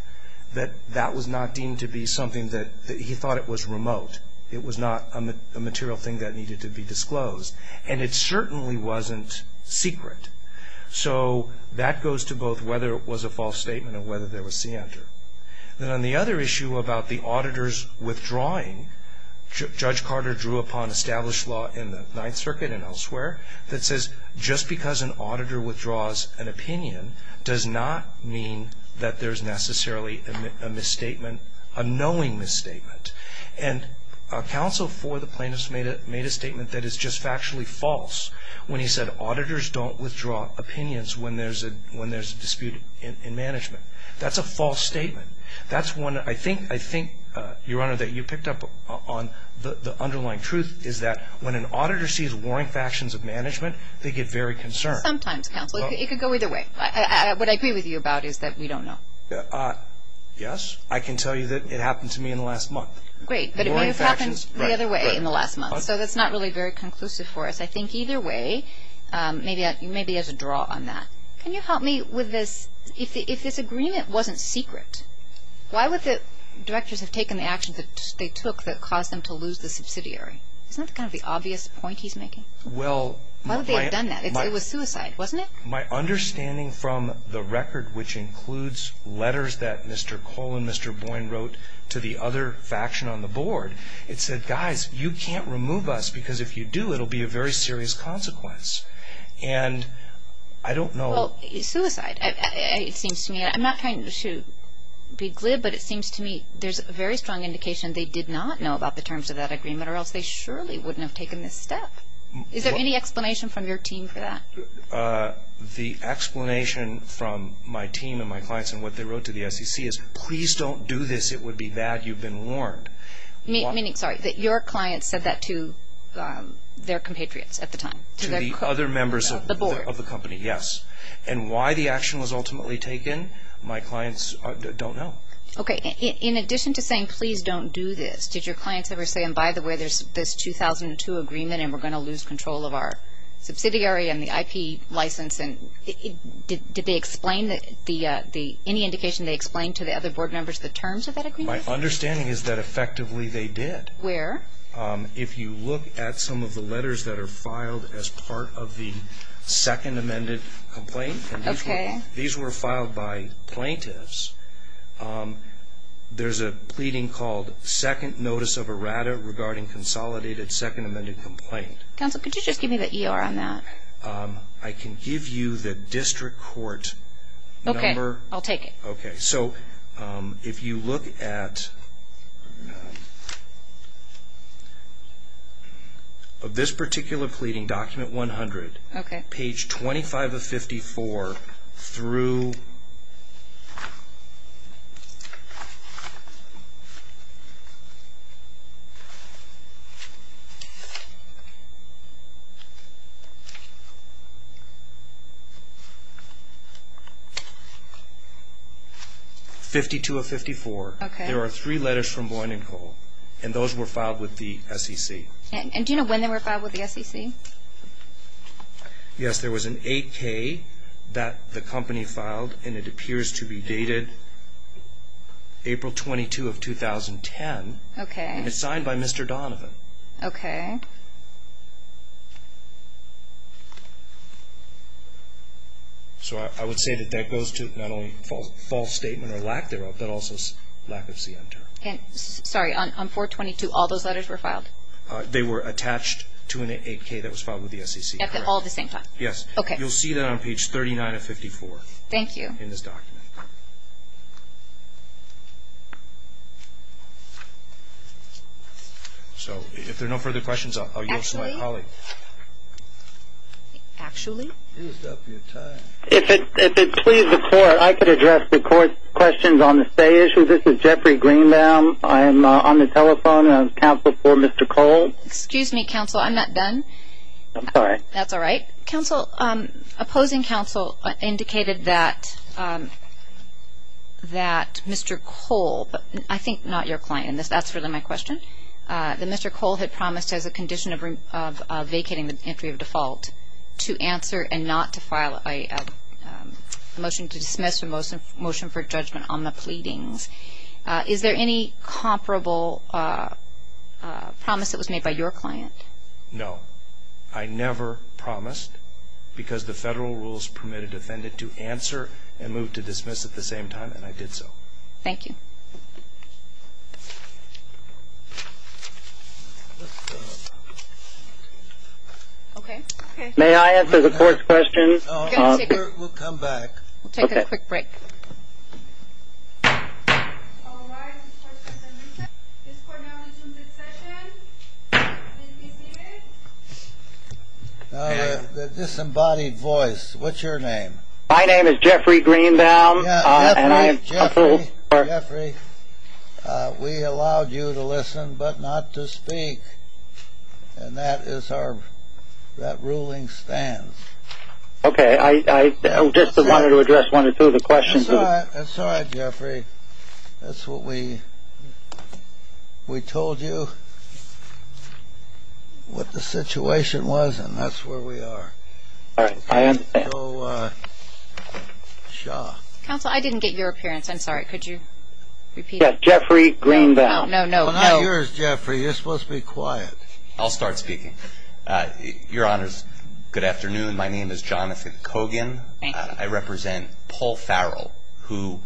that that was not deemed to be something that he thought it was remote. It was not a material thing that needed to be disclosed. And it certainly wasn't secret. So that goes to both whether it was a false statement and whether there was see-enter. And on the other issue about the auditors withdrawing, Judge Carter drew upon established law in the Ninth Circuit and elsewhere that says just because an auditor withdraws an opinion does not mean that there's necessarily a misstatement, a knowing misstatement. And counsel for the plaintiffs made a statement that is just factually false when he said auditors don't withdraw opinions when there's a dispute in management. That's a false statement. That's one I think, Your Honor, that you picked up on the underlying truth is that when an auditor sees warring factions of management, they get very concerned. Sometimes. It could go either way. What I agree with you about is that we don't know. Yes. I can tell you that it happened to me in the last month. Great. But it may have happened the other way in the last month. So that's not really very conclusive for us. I think either way, maybe there's a draw on that. Can you help me with this? If this agreement wasn't secret, why would the directors have taken the actions that they took that caused them to lose the subsidiary? Isn't that kind of the obvious point he's making? Why would they have done that? It was suicide, wasn't it? My understanding from the record, which includes letters that Mr. Cole and Mr. Boyne wrote to the other faction on the board, it said, guys, you can't remove us because if you do, it will be a very serious consequence. And I don't know. Suicide, it seems to me. I'm not trying to be glib, but it seems to me there's a very strong indication they did not know about the terms of that agreement or else they surely wouldn't have taken this step. Is there any explanation from your team for that? The explanation from my team and my clients and what they wrote to the SEC is, please don't do this. It would be bad. You've been warned. Meaning, sorry, that your client said that to their compatriots at the time. To the other members of the company, yes. And why the action was ultimately taken, my clients don't know. Okay. In addition to saying, please don't do this, did your clients ever say, and by the way, there's this 2002 agreement and we're going to lose control of our subsidiary and the IP license, and did they explain any indication they explained to the other board members the terms of that agreement? My understanding is that effectively they did. Where? If you look at some of the letters that are filed as part of the second amended complaint. Okay. These were filed by plaintiffs. There's a pleading called second notice of errata regarding consolidated second amended complaint. Counsel, could you just give me the ER on that? I can give you the district court number. Okay. I'll take it. Okay. So if you look at this particular pleading, document 100. Okay. Page 25 of 54 through 52 of 54. Okay. There are three letters from Boyd and Cole, and those were filed with the SEC. And do you know when they were filed with the SEC? Yes, there was an 8K that the company filed, and it appears to be dated April 22 of 2010. Okay. And it's signed by Mr. Donovan. Okay. So I would say that that goes to not only false statement or lack thereof, but also lack of CN term. Sorry. On 422, all those letters were filed? They were attached to an 8K that was filed with the SEC. That's all at the same time? Yes. Okay. You'll see that on page 39 of 54. Thank you. In this document. So if there are no further questions, I'll yield to my colleague. Actually? Actually? If it pleases the court, I could address the court's questions on the stay issue. Good afternoon. This is Jeffrey Greenbaum. I am on the telephone of Counsel for Mr. Cole. Excuse me, Counsel. I'm not done. I'm sorry. That's all right. Counsel, opposing counsel indicated that Mr. Cole, I think not your client. That's really my question. That Mr. Cole had promised as a condition of vacating the entry of default to answer and not to file a motion to dismiss and motion for judgment on the pleadings. Is there any comparable promise that was made by your client? No. I never promised because the federal rules permit a defendant to answer and move to dismiss at the same time, and I did so. Thank you. May I answer the court's questions? We'll come back. We'll take a quick break. The disembodied voice, what's your name? My name is Jeffrey Greenbaum. Jeffrey, we allowed you to listen but not to speak, and that is our ruling stands. Okay. I just wanted to address one or two of the questions. That's all right, Jeffrey. That's what we told you what the situation was, and that's where we are. Counsel, I didn't get your appearance. I'm sorry. Could you repeat? Jeffrey Greenbaum. No, no, no. I'm not yours, Jeffrey. You're supposed to be quiet. I'll start speaking. Your Honor, good afternoon. My name is Jonathan Cogan. I represent Paul Farrell, who,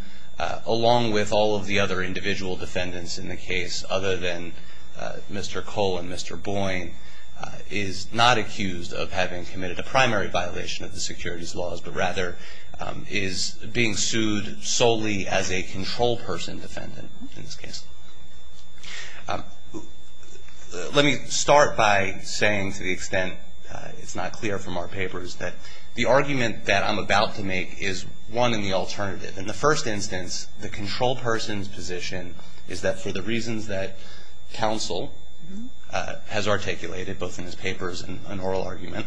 along with all of the other individual defendants in the case other than Mr. Cole and Mr. Boyne, is not accused of having committed a primary violation of the securities laws, but rather is being sued solely as a control person defendant in this case. Let me start by saying, to the extent it's not clear from our papers, that the argument that I'm about to make is one in the alternative. In the first instance, the control person's position is that for the reasons that counsel has articulated, both in his papers and oral argument,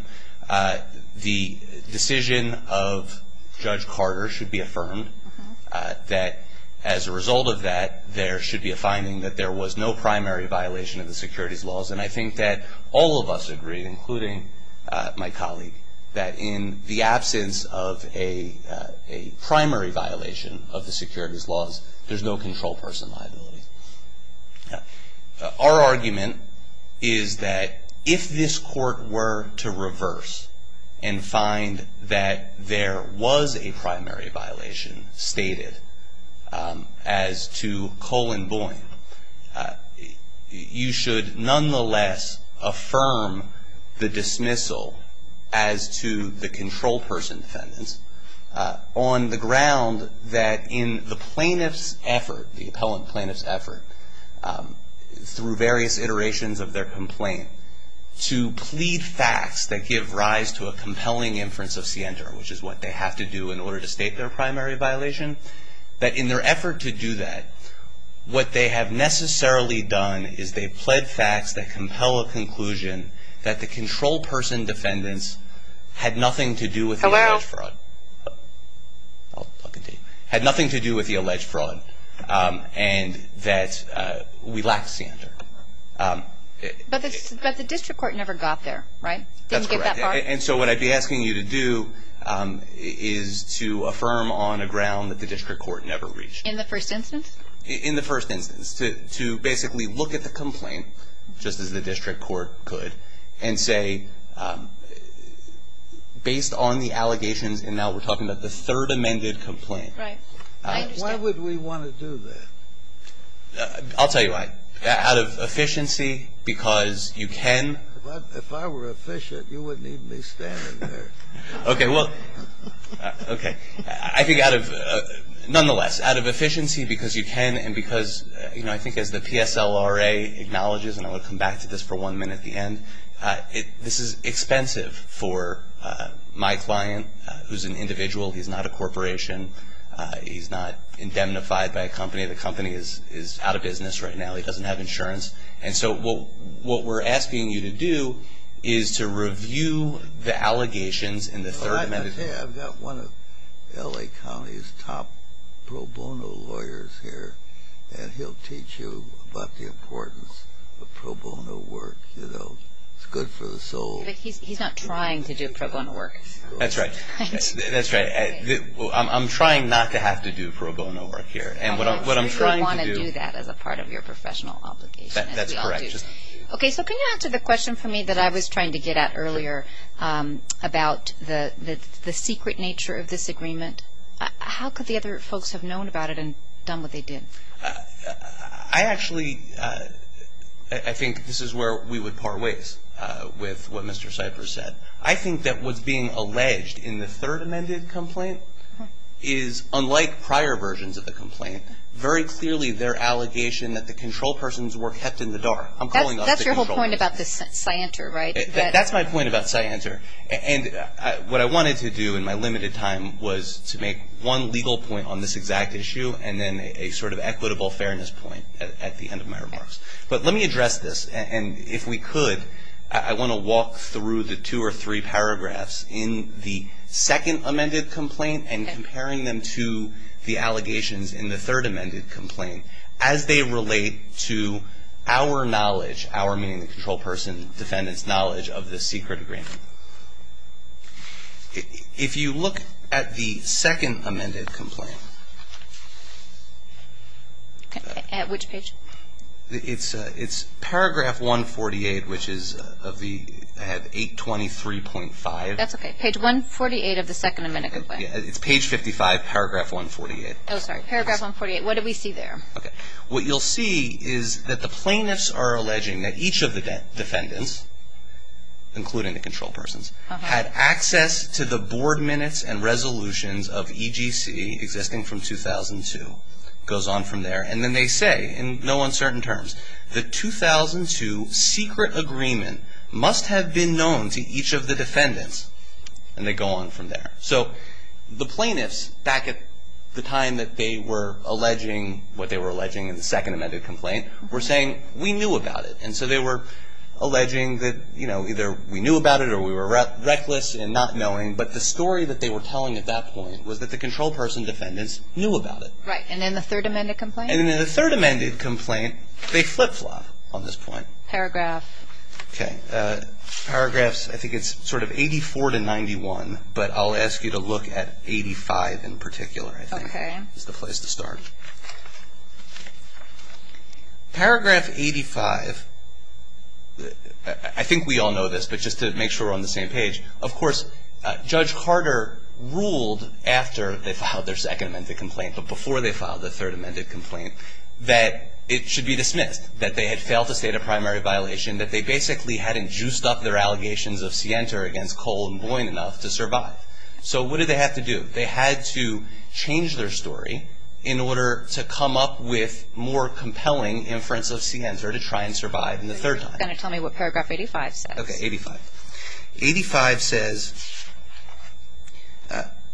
the decision of Judge Carter should be affirmed, that as a result of that, there should be a finding that there was no primary violation of the securities laws, and I think that all of us agree, including my colleague, that in the absence of a primary violation of the securities laws, there's no control person liability. Our argument is that if this court were to reverse and find that there was a primary violation stated as to Cole and Boyne, you should nonetheless affirm the dismissal as to the control person defendant, on the ground that in the plaintiff's effort, the appellant plaintiff's effort, through various iterations of their complaint, to plead facts that give rise to a compelling inference of scienter, which is what they have to do in order to state their primary violation, that in their effort to do that, what they have necessarily done is they've pled facts that compel a conclusion that the control person defendants had nothing to do with the alleged fraud. I'll continue. Had nothing to do with the alleged fraud and that we lacked scienter. But the district court never got there, right? That's correct. And so what I'd be asking you to do is to affirm on the ground that the district court never reached. In the first instance? In the first instance. To basically look at the complaint, just as the district court could, and say, based on the allegations, and now we're talking about the third amended complaint. Right. Why would we want to do that? I'll tell you why. Out of efficiency, because you can. If I were efficient, you wouldn't even be standing there. Okay, well, okay. I think out of, nonetheless, out of efficiency, because you can, and because, you know, I think as the PSLRA acknowledges, and I'll come back to this for one minute at the end, this is expensive for my client, who's an individual. He's not a corporation. He's not indemnified by a company. The company is out of business right now. He doesn't have insurance. And so what we're asking you to do is to review the allegations in the third amended complaint. I've got one of L.A. County's top pro bono lawyers here, and he'll teach you about the importance of pro bono work. It's good for the soul. He's not trying to do pro bono work. That's right. That's right. I'm trying not to have to do pro bono work here. You don't want to do that as a part of your professional obligation. That's correct. Okay, so can you answer the question for me that I was trying to get at earlier about the secret nature of this agreement? How could the other folks have known about it and done what they did? I actually think this is where we would par ways with what Mr. Cipher said. I think that what's being alleged in the third amended complaint is, unlike prior versions of the complaint, very clearly their allegation that the control persons were kept in the dark. I'm calling off the control persons. That's your whole point about this scienter, right? That's my point about scienter. And what I wanted to do in my limited time was to make one legal point on this exact issue and then a sort of equitable fairness point at the end of my remarks. But let me address this, and if we could, I want to walk through the two or three paragraphs in the second amended complaint and comparing them to the allegations in the third amended complaint as they relate to our knowledge, our, meaning the control person, defendant's knowledge of this secret agreement. If you look at the second amended complaint. At which page? It's paragraph 148, which is 823.5. That's okay. It's page 148 of the second amended complaint. It's page 55, paragraph 148. Oh, sorry. Paragraph 148. What do we see there? Okay. What you'll see is that the plaintiffs are alleging that each of the defendants, including the control persons, had access to the board minutes and resolutions of EGC existing from 2002. It goes on from there. And then they say, in no uncertain terms, the 2002 secret agreement must have been known to each of the defendants. And they go on from there. So the plaintiffs, back at the time that they were alleging what they were alleging in the second amended complaint, were saying, we knew about it. And so they were alleging that, you know, either we knew about it or we were reckless in not knowing. But the story that they were telling at that point was that the control person's defendants knew about it. Right. And in the third amended complaint? And in the third amended complaint, they flip-flop on this point. Paragraph. Okay. Paragraphs, I think it's sort of 84 to 91, but I'll ask you to look at 85 in particular. Okay. That's the place to start. Paragraph 85. I think we all know this, but just to make sure we're on the same page. Of course, Judge Carter ruled after they filed their second amended complaint, but before they filed their third amended complaint, that it should be dismissed, that they had failed to state a primary violation, that they basically hadn't juiced up their allegations of Sienta against Cole and Boyd enough to survive. So what did they have to do? They had to change their story in order to come up with more compelling inference of Sienta to try and survive in the third time. And tell me what paragraph 85 says. Okay, 85. 85 says,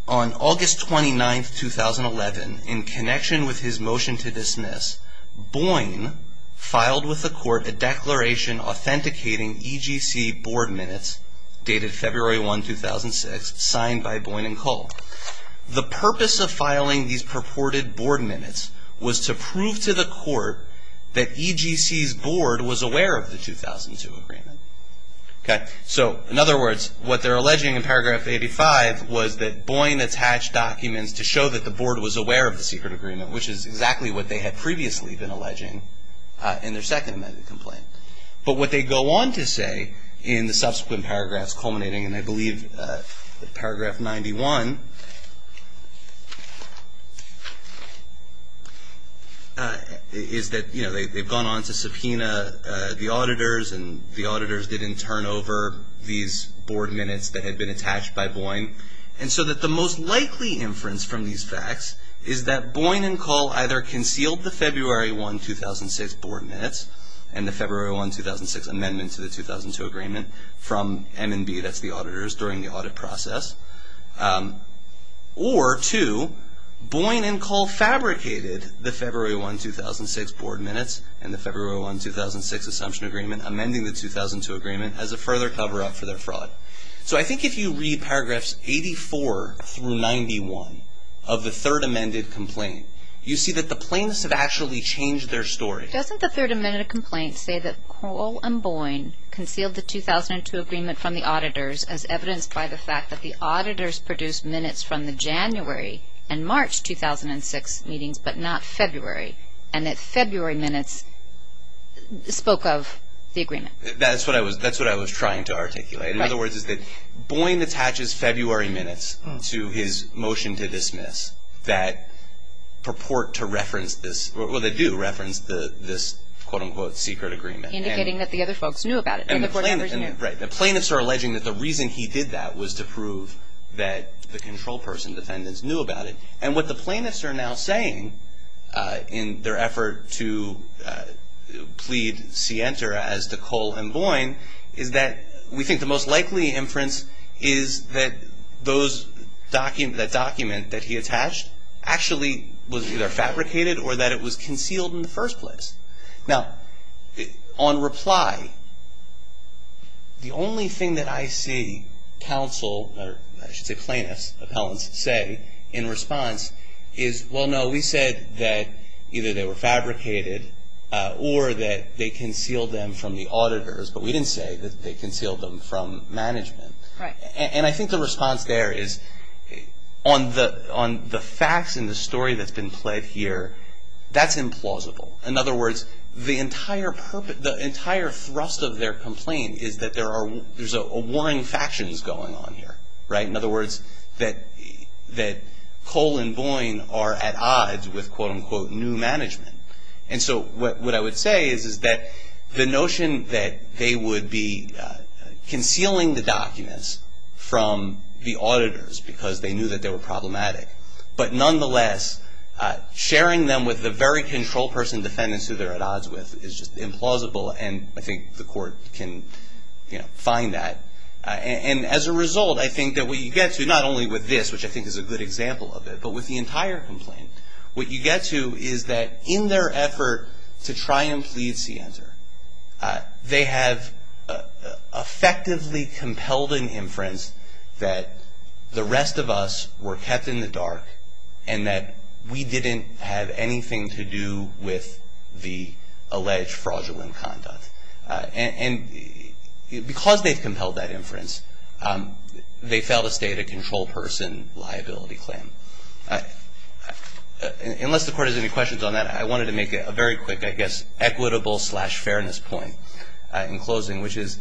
on August 29, 2011, in connection with his motion to dismiss, Boyne filed with the court a declaration authenticating EGC board minutes dated February 1, 2006, signed by Boyne and Cole. The purpose of filing these purported board minutes was to prove to the court that EGC's board was aware of the 2002 agreement. Okay. So, in other words, what they're alleging in paragraph 85 was that Boyne attached documents to show that the board was aware of the secret agreement, which is exactly what they had previously been alleging in their second amended complaint. But what they go on to say in the subsequent paragraphs culminating, and I believe paragraph 91 is that, you know, they've gone on to subpoena the auditors and the auditors didn't turn over these board minutes that had been attached by Boyne. And so that the most likely inference from these facts is that Boyne and Cole either concealed the February 1, 2006 board minutes and the February 1, 2006 amendment to the 2002 agreement from M&B, that's the auditors during the audit process, or two, Boyne and Cole fabricated the February 1, 2006 board minutes and the February 1, 2006 assumption agreement amending the 2002 agreement as a further cover-up for their fraud. So I think if you read paragraphs 84 through 91 of the third amended complaint, you see that the plaintiffs have actually changed their story. Doesn't the third amended complaint say that Cole and Boyne concealed the 2002 agreement from the auditors as evidenced by the fact that the auditors produced minutes from the January and March 2006 meetings but not February, and that February minutes spoke of the agreement? That's what I was trying to articulate. In other words, that Boyne attaches February minutes to his motion to dismiss that purport to reference this, or they do reference this, quote-unquote, secret agreement. Indicating that the other folks knew about it. Right. The plaintiffs are alleging that the reason he did that was to prove that the control person defendants knew about it. And what the plaintiffs are now saying in their effort to plead Sienta as to Cole and Boyne is that we think the most likely inference is that that document that he attached actually was either fabricated or that it was concealed in the first place. Now, on reply, the only thing that I see counsel or plaintiffs say in response is, well, no, we said that either they were fabricated or that they concealed them from the auditors, but we didn't say that they concealed them from management. Right. And I think the response there is on the facts and the story that's been played here, that's implausible. In other words, the entire thrust of their complaint is that there's a warring factions going on here. Right. In other words, that Cole and Boyne are at odds with, quote-unquote, new management. And so what I would say is that the notion that they would be concealing the documents from the auditors because they knew that they were problematic, but nonetheless, sharing them with the very control person defendants who they're at odds with is implausible, and I think the court can find that. And as a result, I think that what you get to, not only with this, which I think is a good example of it, but with the entire complaint, what you get to is that in their effort to try and plead Sienta, they have effectively compelled an inference that the rest of us were kept in the dark and that we didn't have anything to do with the alleged fraudulent conduct. And because they've compelled that inference, they failed to state a control person liability claim. Unless the court has any questions on that, I wanted to make a very quick, I guess, equitable-slash-fairness point in closing, which is,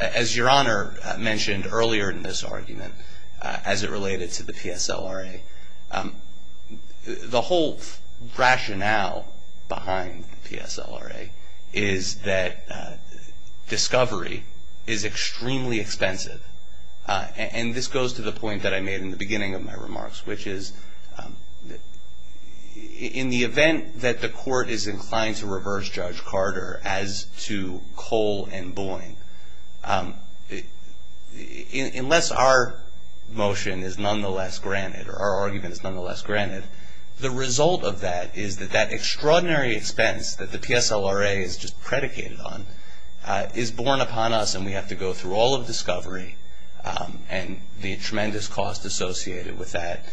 as Your Honor mentioned earlier in this argument, as it related to the TSLRA, the whole rationale behind the TSLRA is that discovery is extremely expensive. And this goes to the point that I made in the beginning of my remarks, which is, in the event that the court is inclined to reverse Judge Carter as to Cole and Boyne, unless our motion is nonetheless granted or our argument is nonetheless granted, the result of that is that that extraordinary expense that the TSLRA is just predicated on is borne upon us when we have to go through all of discovery and the tremendous cost associated with that.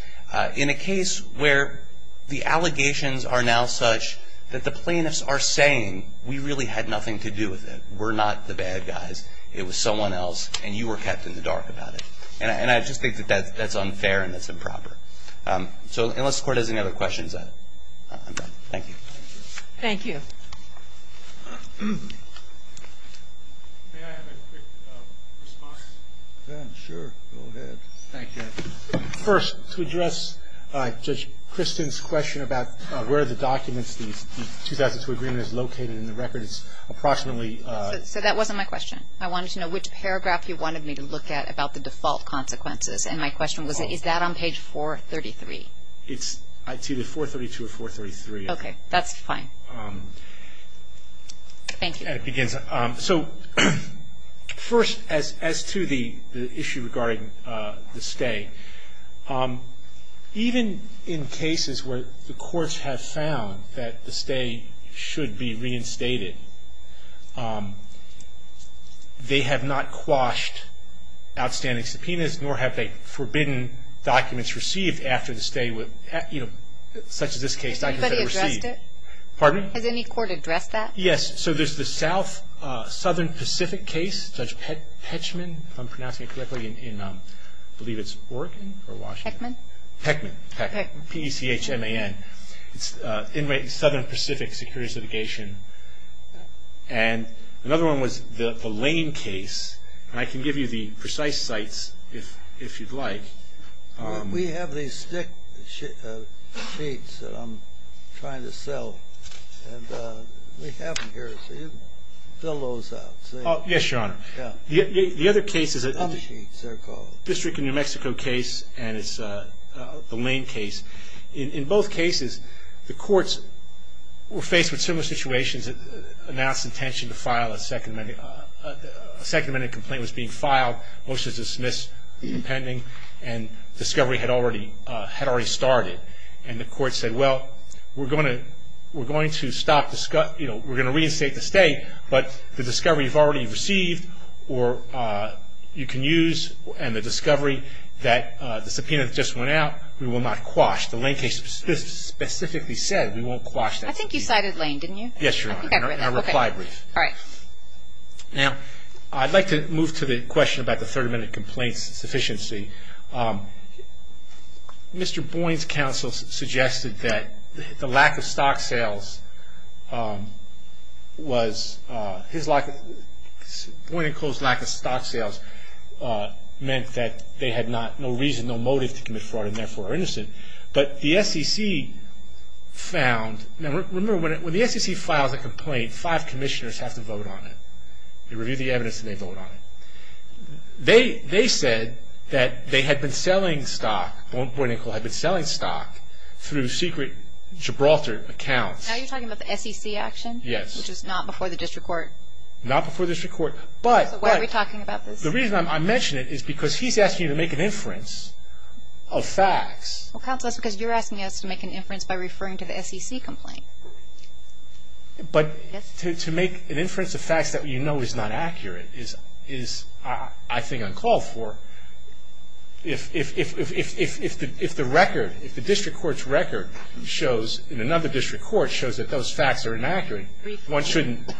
In a case where the allegations are now such that the plaintiffs are saying, we really had nothing to do with it, we're not the bad guys, it was someone else, and you were kept in the dark about it. And I just think that that's unfair and that's improper. So unless the court has any other questions, I'm done. Thank you. Thank you. Mark? Ben, sure. Go ahead. Thank you. First, to address Judge Kristen's question about where the documents, the 2002 agreement is located in the records, approximately – So that wasn't my question. I wanted to know which paragraphs you wanted me to look at about the default consequences. And my question was, is that on page 433? It's either 432 or 433. Okay. That's fine. Thank you. So first, as to the issue regarding the stay, even in cases where the courts have found that the stay should be reinstated, they have not quashed outstanding subpoenas, nor have they forbidden documents received after the stay, such as this case. Has any court addressed that? Yes. So there's the South, Southern Pacific case, Judge Pechman, if I'm pronouncing it correctly, in I believe it's Oregon or Washington? Pechman. Pechman. Pechman. P-E-C-H-M-A-N. It's in Southern Pacific security litigation. And another one was the Lane case. And I can give you the precise sites if you'd like. We have these six states that I'm trying to sell. And we have them here. Fill those out. Yes, Your Honor. The other case is a district in New Mexico case, and it's the Lane case. In both cases, the courts were faced with similar situations. It announced intention to file a second amendment. A second amendment complaint was being filed, motion was dismissed, pending, and discovery had already started. And the court said, well, we're going to reinstate the state, but the discovery you've already received or you can use, and the discovery that the subpoena just went out, we will not quash. The Lane case specifically said we won't quash that. I think you cited Lane, didn't you? Yes, Your Honor. And I replied briefly. All right. Now, I'd like to move to the question about the 30-minute complaint sufficiency. Mr. Boyne's counsel suggested that the lack of stock sales was his lack of stock sales meant that they had no reason, no motive to commit fraud and, therefore, are innocent. But the SEC found – now, remember, when the SEC files a complaint, five commissioners have to vote on it. They review the evidence and they vote on it. They said that they had been selling stock, Boyne and Cole had been selling stock through secret Gibraltar accounts. Now you're talking about the SEC action? Yes. Which was not before the district court. Not before the district court. Why are we talking about this? The reason I mention it is because he's asking you to make an inference of facts. Well, counsel, that's because you're asking us to make an inference by referring to the SEC complaint. But to make an inference of facts that you know is not accurate is, I think, uncalled for. If the record, if the district court's record shows, in another district court, shows that those facts are inaccurate, one shouldn't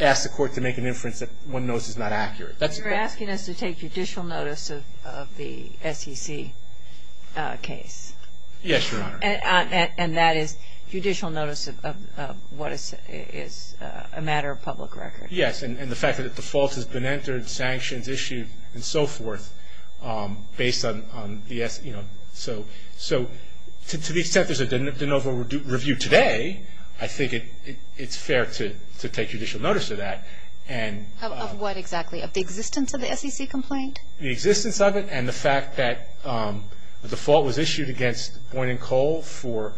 ask the court to make an inference that one knows is not accurate. You're asking us to take judicial notice of the SEC case. Yes, Your Honor. And that is judicial notice of what is a matter of public record. Yes. And the fact that the fault has been entered, sanctioned, issued, and so forth, based on the SEC. So to these tempers of the NOVA review today, I think it's fair to take judicial notice of that. Of what exactly? Of the existence of the SEC complaint? The existence of it and the fact that the fault was issued against Boynton Cole for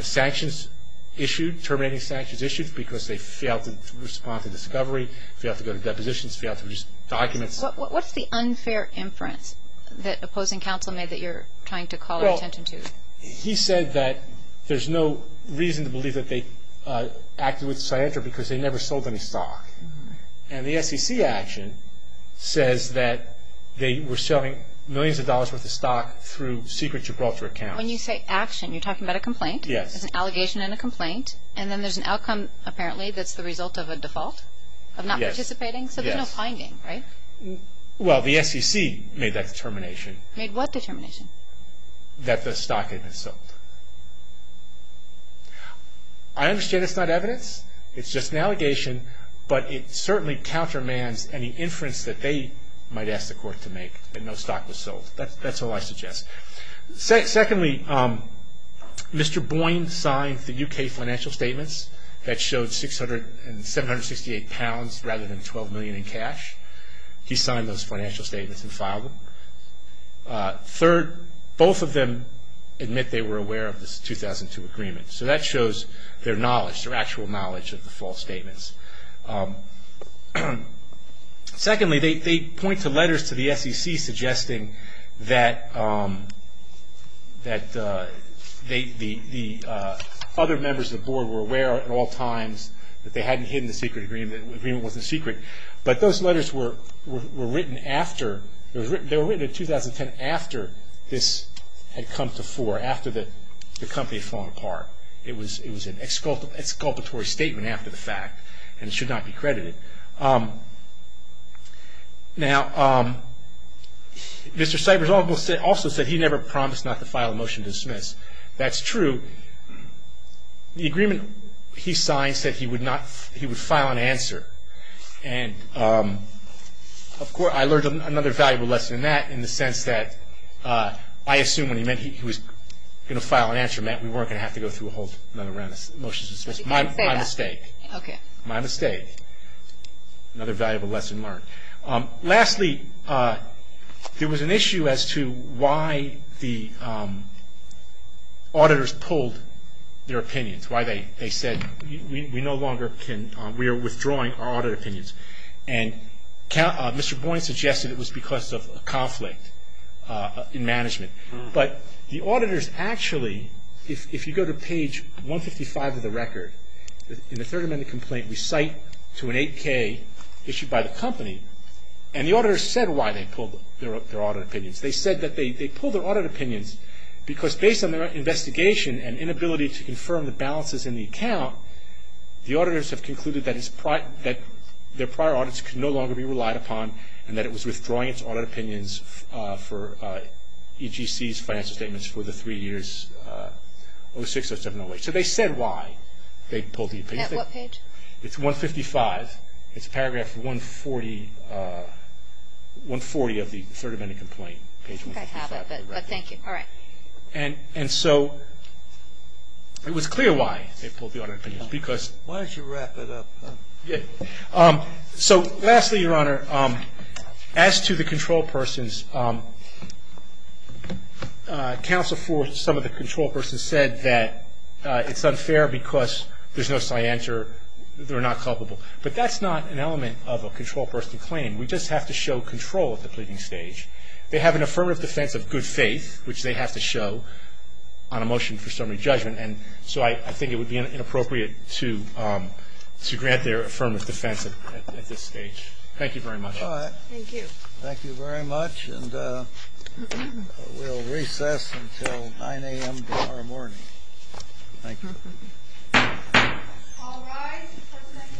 sanctions issued, terminating sanctions issued because they failed to respond to discovery, failed to go to depositions, failed to produce documents. What's the unfair inference that opposing counsel made that you're trying to call attention to? Well, he said that there's no reason to believe that they acted with scientific because they never sold any stock. And the SEC action says that they were selling millions of dollars worth of stock through secret to call for account. When you say action, you're talking about a complaint. Yes. There's an allegation and a complaint. And then there's an outcome, apparently, that's the result of a default of not participating. Yes. So there's no finding, right? Well, the SEC made that determination. Made what determination? That the stock isn't sold. I understand it's not evidence. It's just an allegation, but it certainly countermands any inference that they might ask the court to make that no stock was sold. That's all I suggest. Secondly, Mr. Boynton signed the U.K. financial statements that showed 768 pounds rather than 12 million in cash. He signed those financial statements and filed them. Third, both of them admit they were aware of the 2002 agreement. So that shows their knowledge, their actual knowledge of the false statements. Secondly, they point to letters to the SEC suggesting that the other members of the board were aware at all times that they hadn't hidden the secret agreement, the agreement wasn't secret. But those letters were written after. They were written in 2010 after this had come to fore, after the company had fallen apart. It was an exculpatory statement after the fact and should not be credited. Now, Mr. Seibers also said he never promised not to file a motion to dismiss. That's true. The agreement he signed said he would file an answer. And, of course, I learned another valuable lesson in that in the sense that I assumed when he meant he was going to file an answer, Matt, we weren't going to have to go through a whole number of motions. It was my mistake. My mistake. Another valuable lesson learned. Lastly, there was an issue as to why the auditors pulled their opinions, why they said we no longer can, we are withdrawing our audit opinions. And Mr. Boyne suggested it was because of a conflict in management. But the auditors actually, if you go to page 155 of the record, in the 30-minute complaint, we cite to an 8K issued by the company, and the auditors said why they pulled their audit opinions. They said that they pulled their audit opinions because based on their investigation and inability to confirm the balances in the account, the auditors have concluded that their prior audits could no longer be relied upon and that it was withdrawing its audit opinions for EGC's finance statements for the three years, 06, 07, and 08. So they said why they pulled the opinions. At what page? It's 155. It's paragraph 140 of the 30-minute complaint, page 155. I have it, but thank you. All right. And so it was clear why they pulled the audit opinions because Why don't you wrap it up? So lastly, Your Honor, as to the control persons, counsel for some of the control persons said that it's unfair because there's no science or they're not culpable. But that's not an element of a control person claim. We just have to show control at the pleading stage. They have an affirmative defense of good faith, which they have to show on a motion for summary judgment. And so I think it would be inappropriate to grant their affirmative defense at this stage. Thank you very much. All right. Thank you. Thank you very much. And we'll recess until 9 a.m. tomorrow morning. Thank you. All rise for the next recess until 9 a.m. tomorrow morning.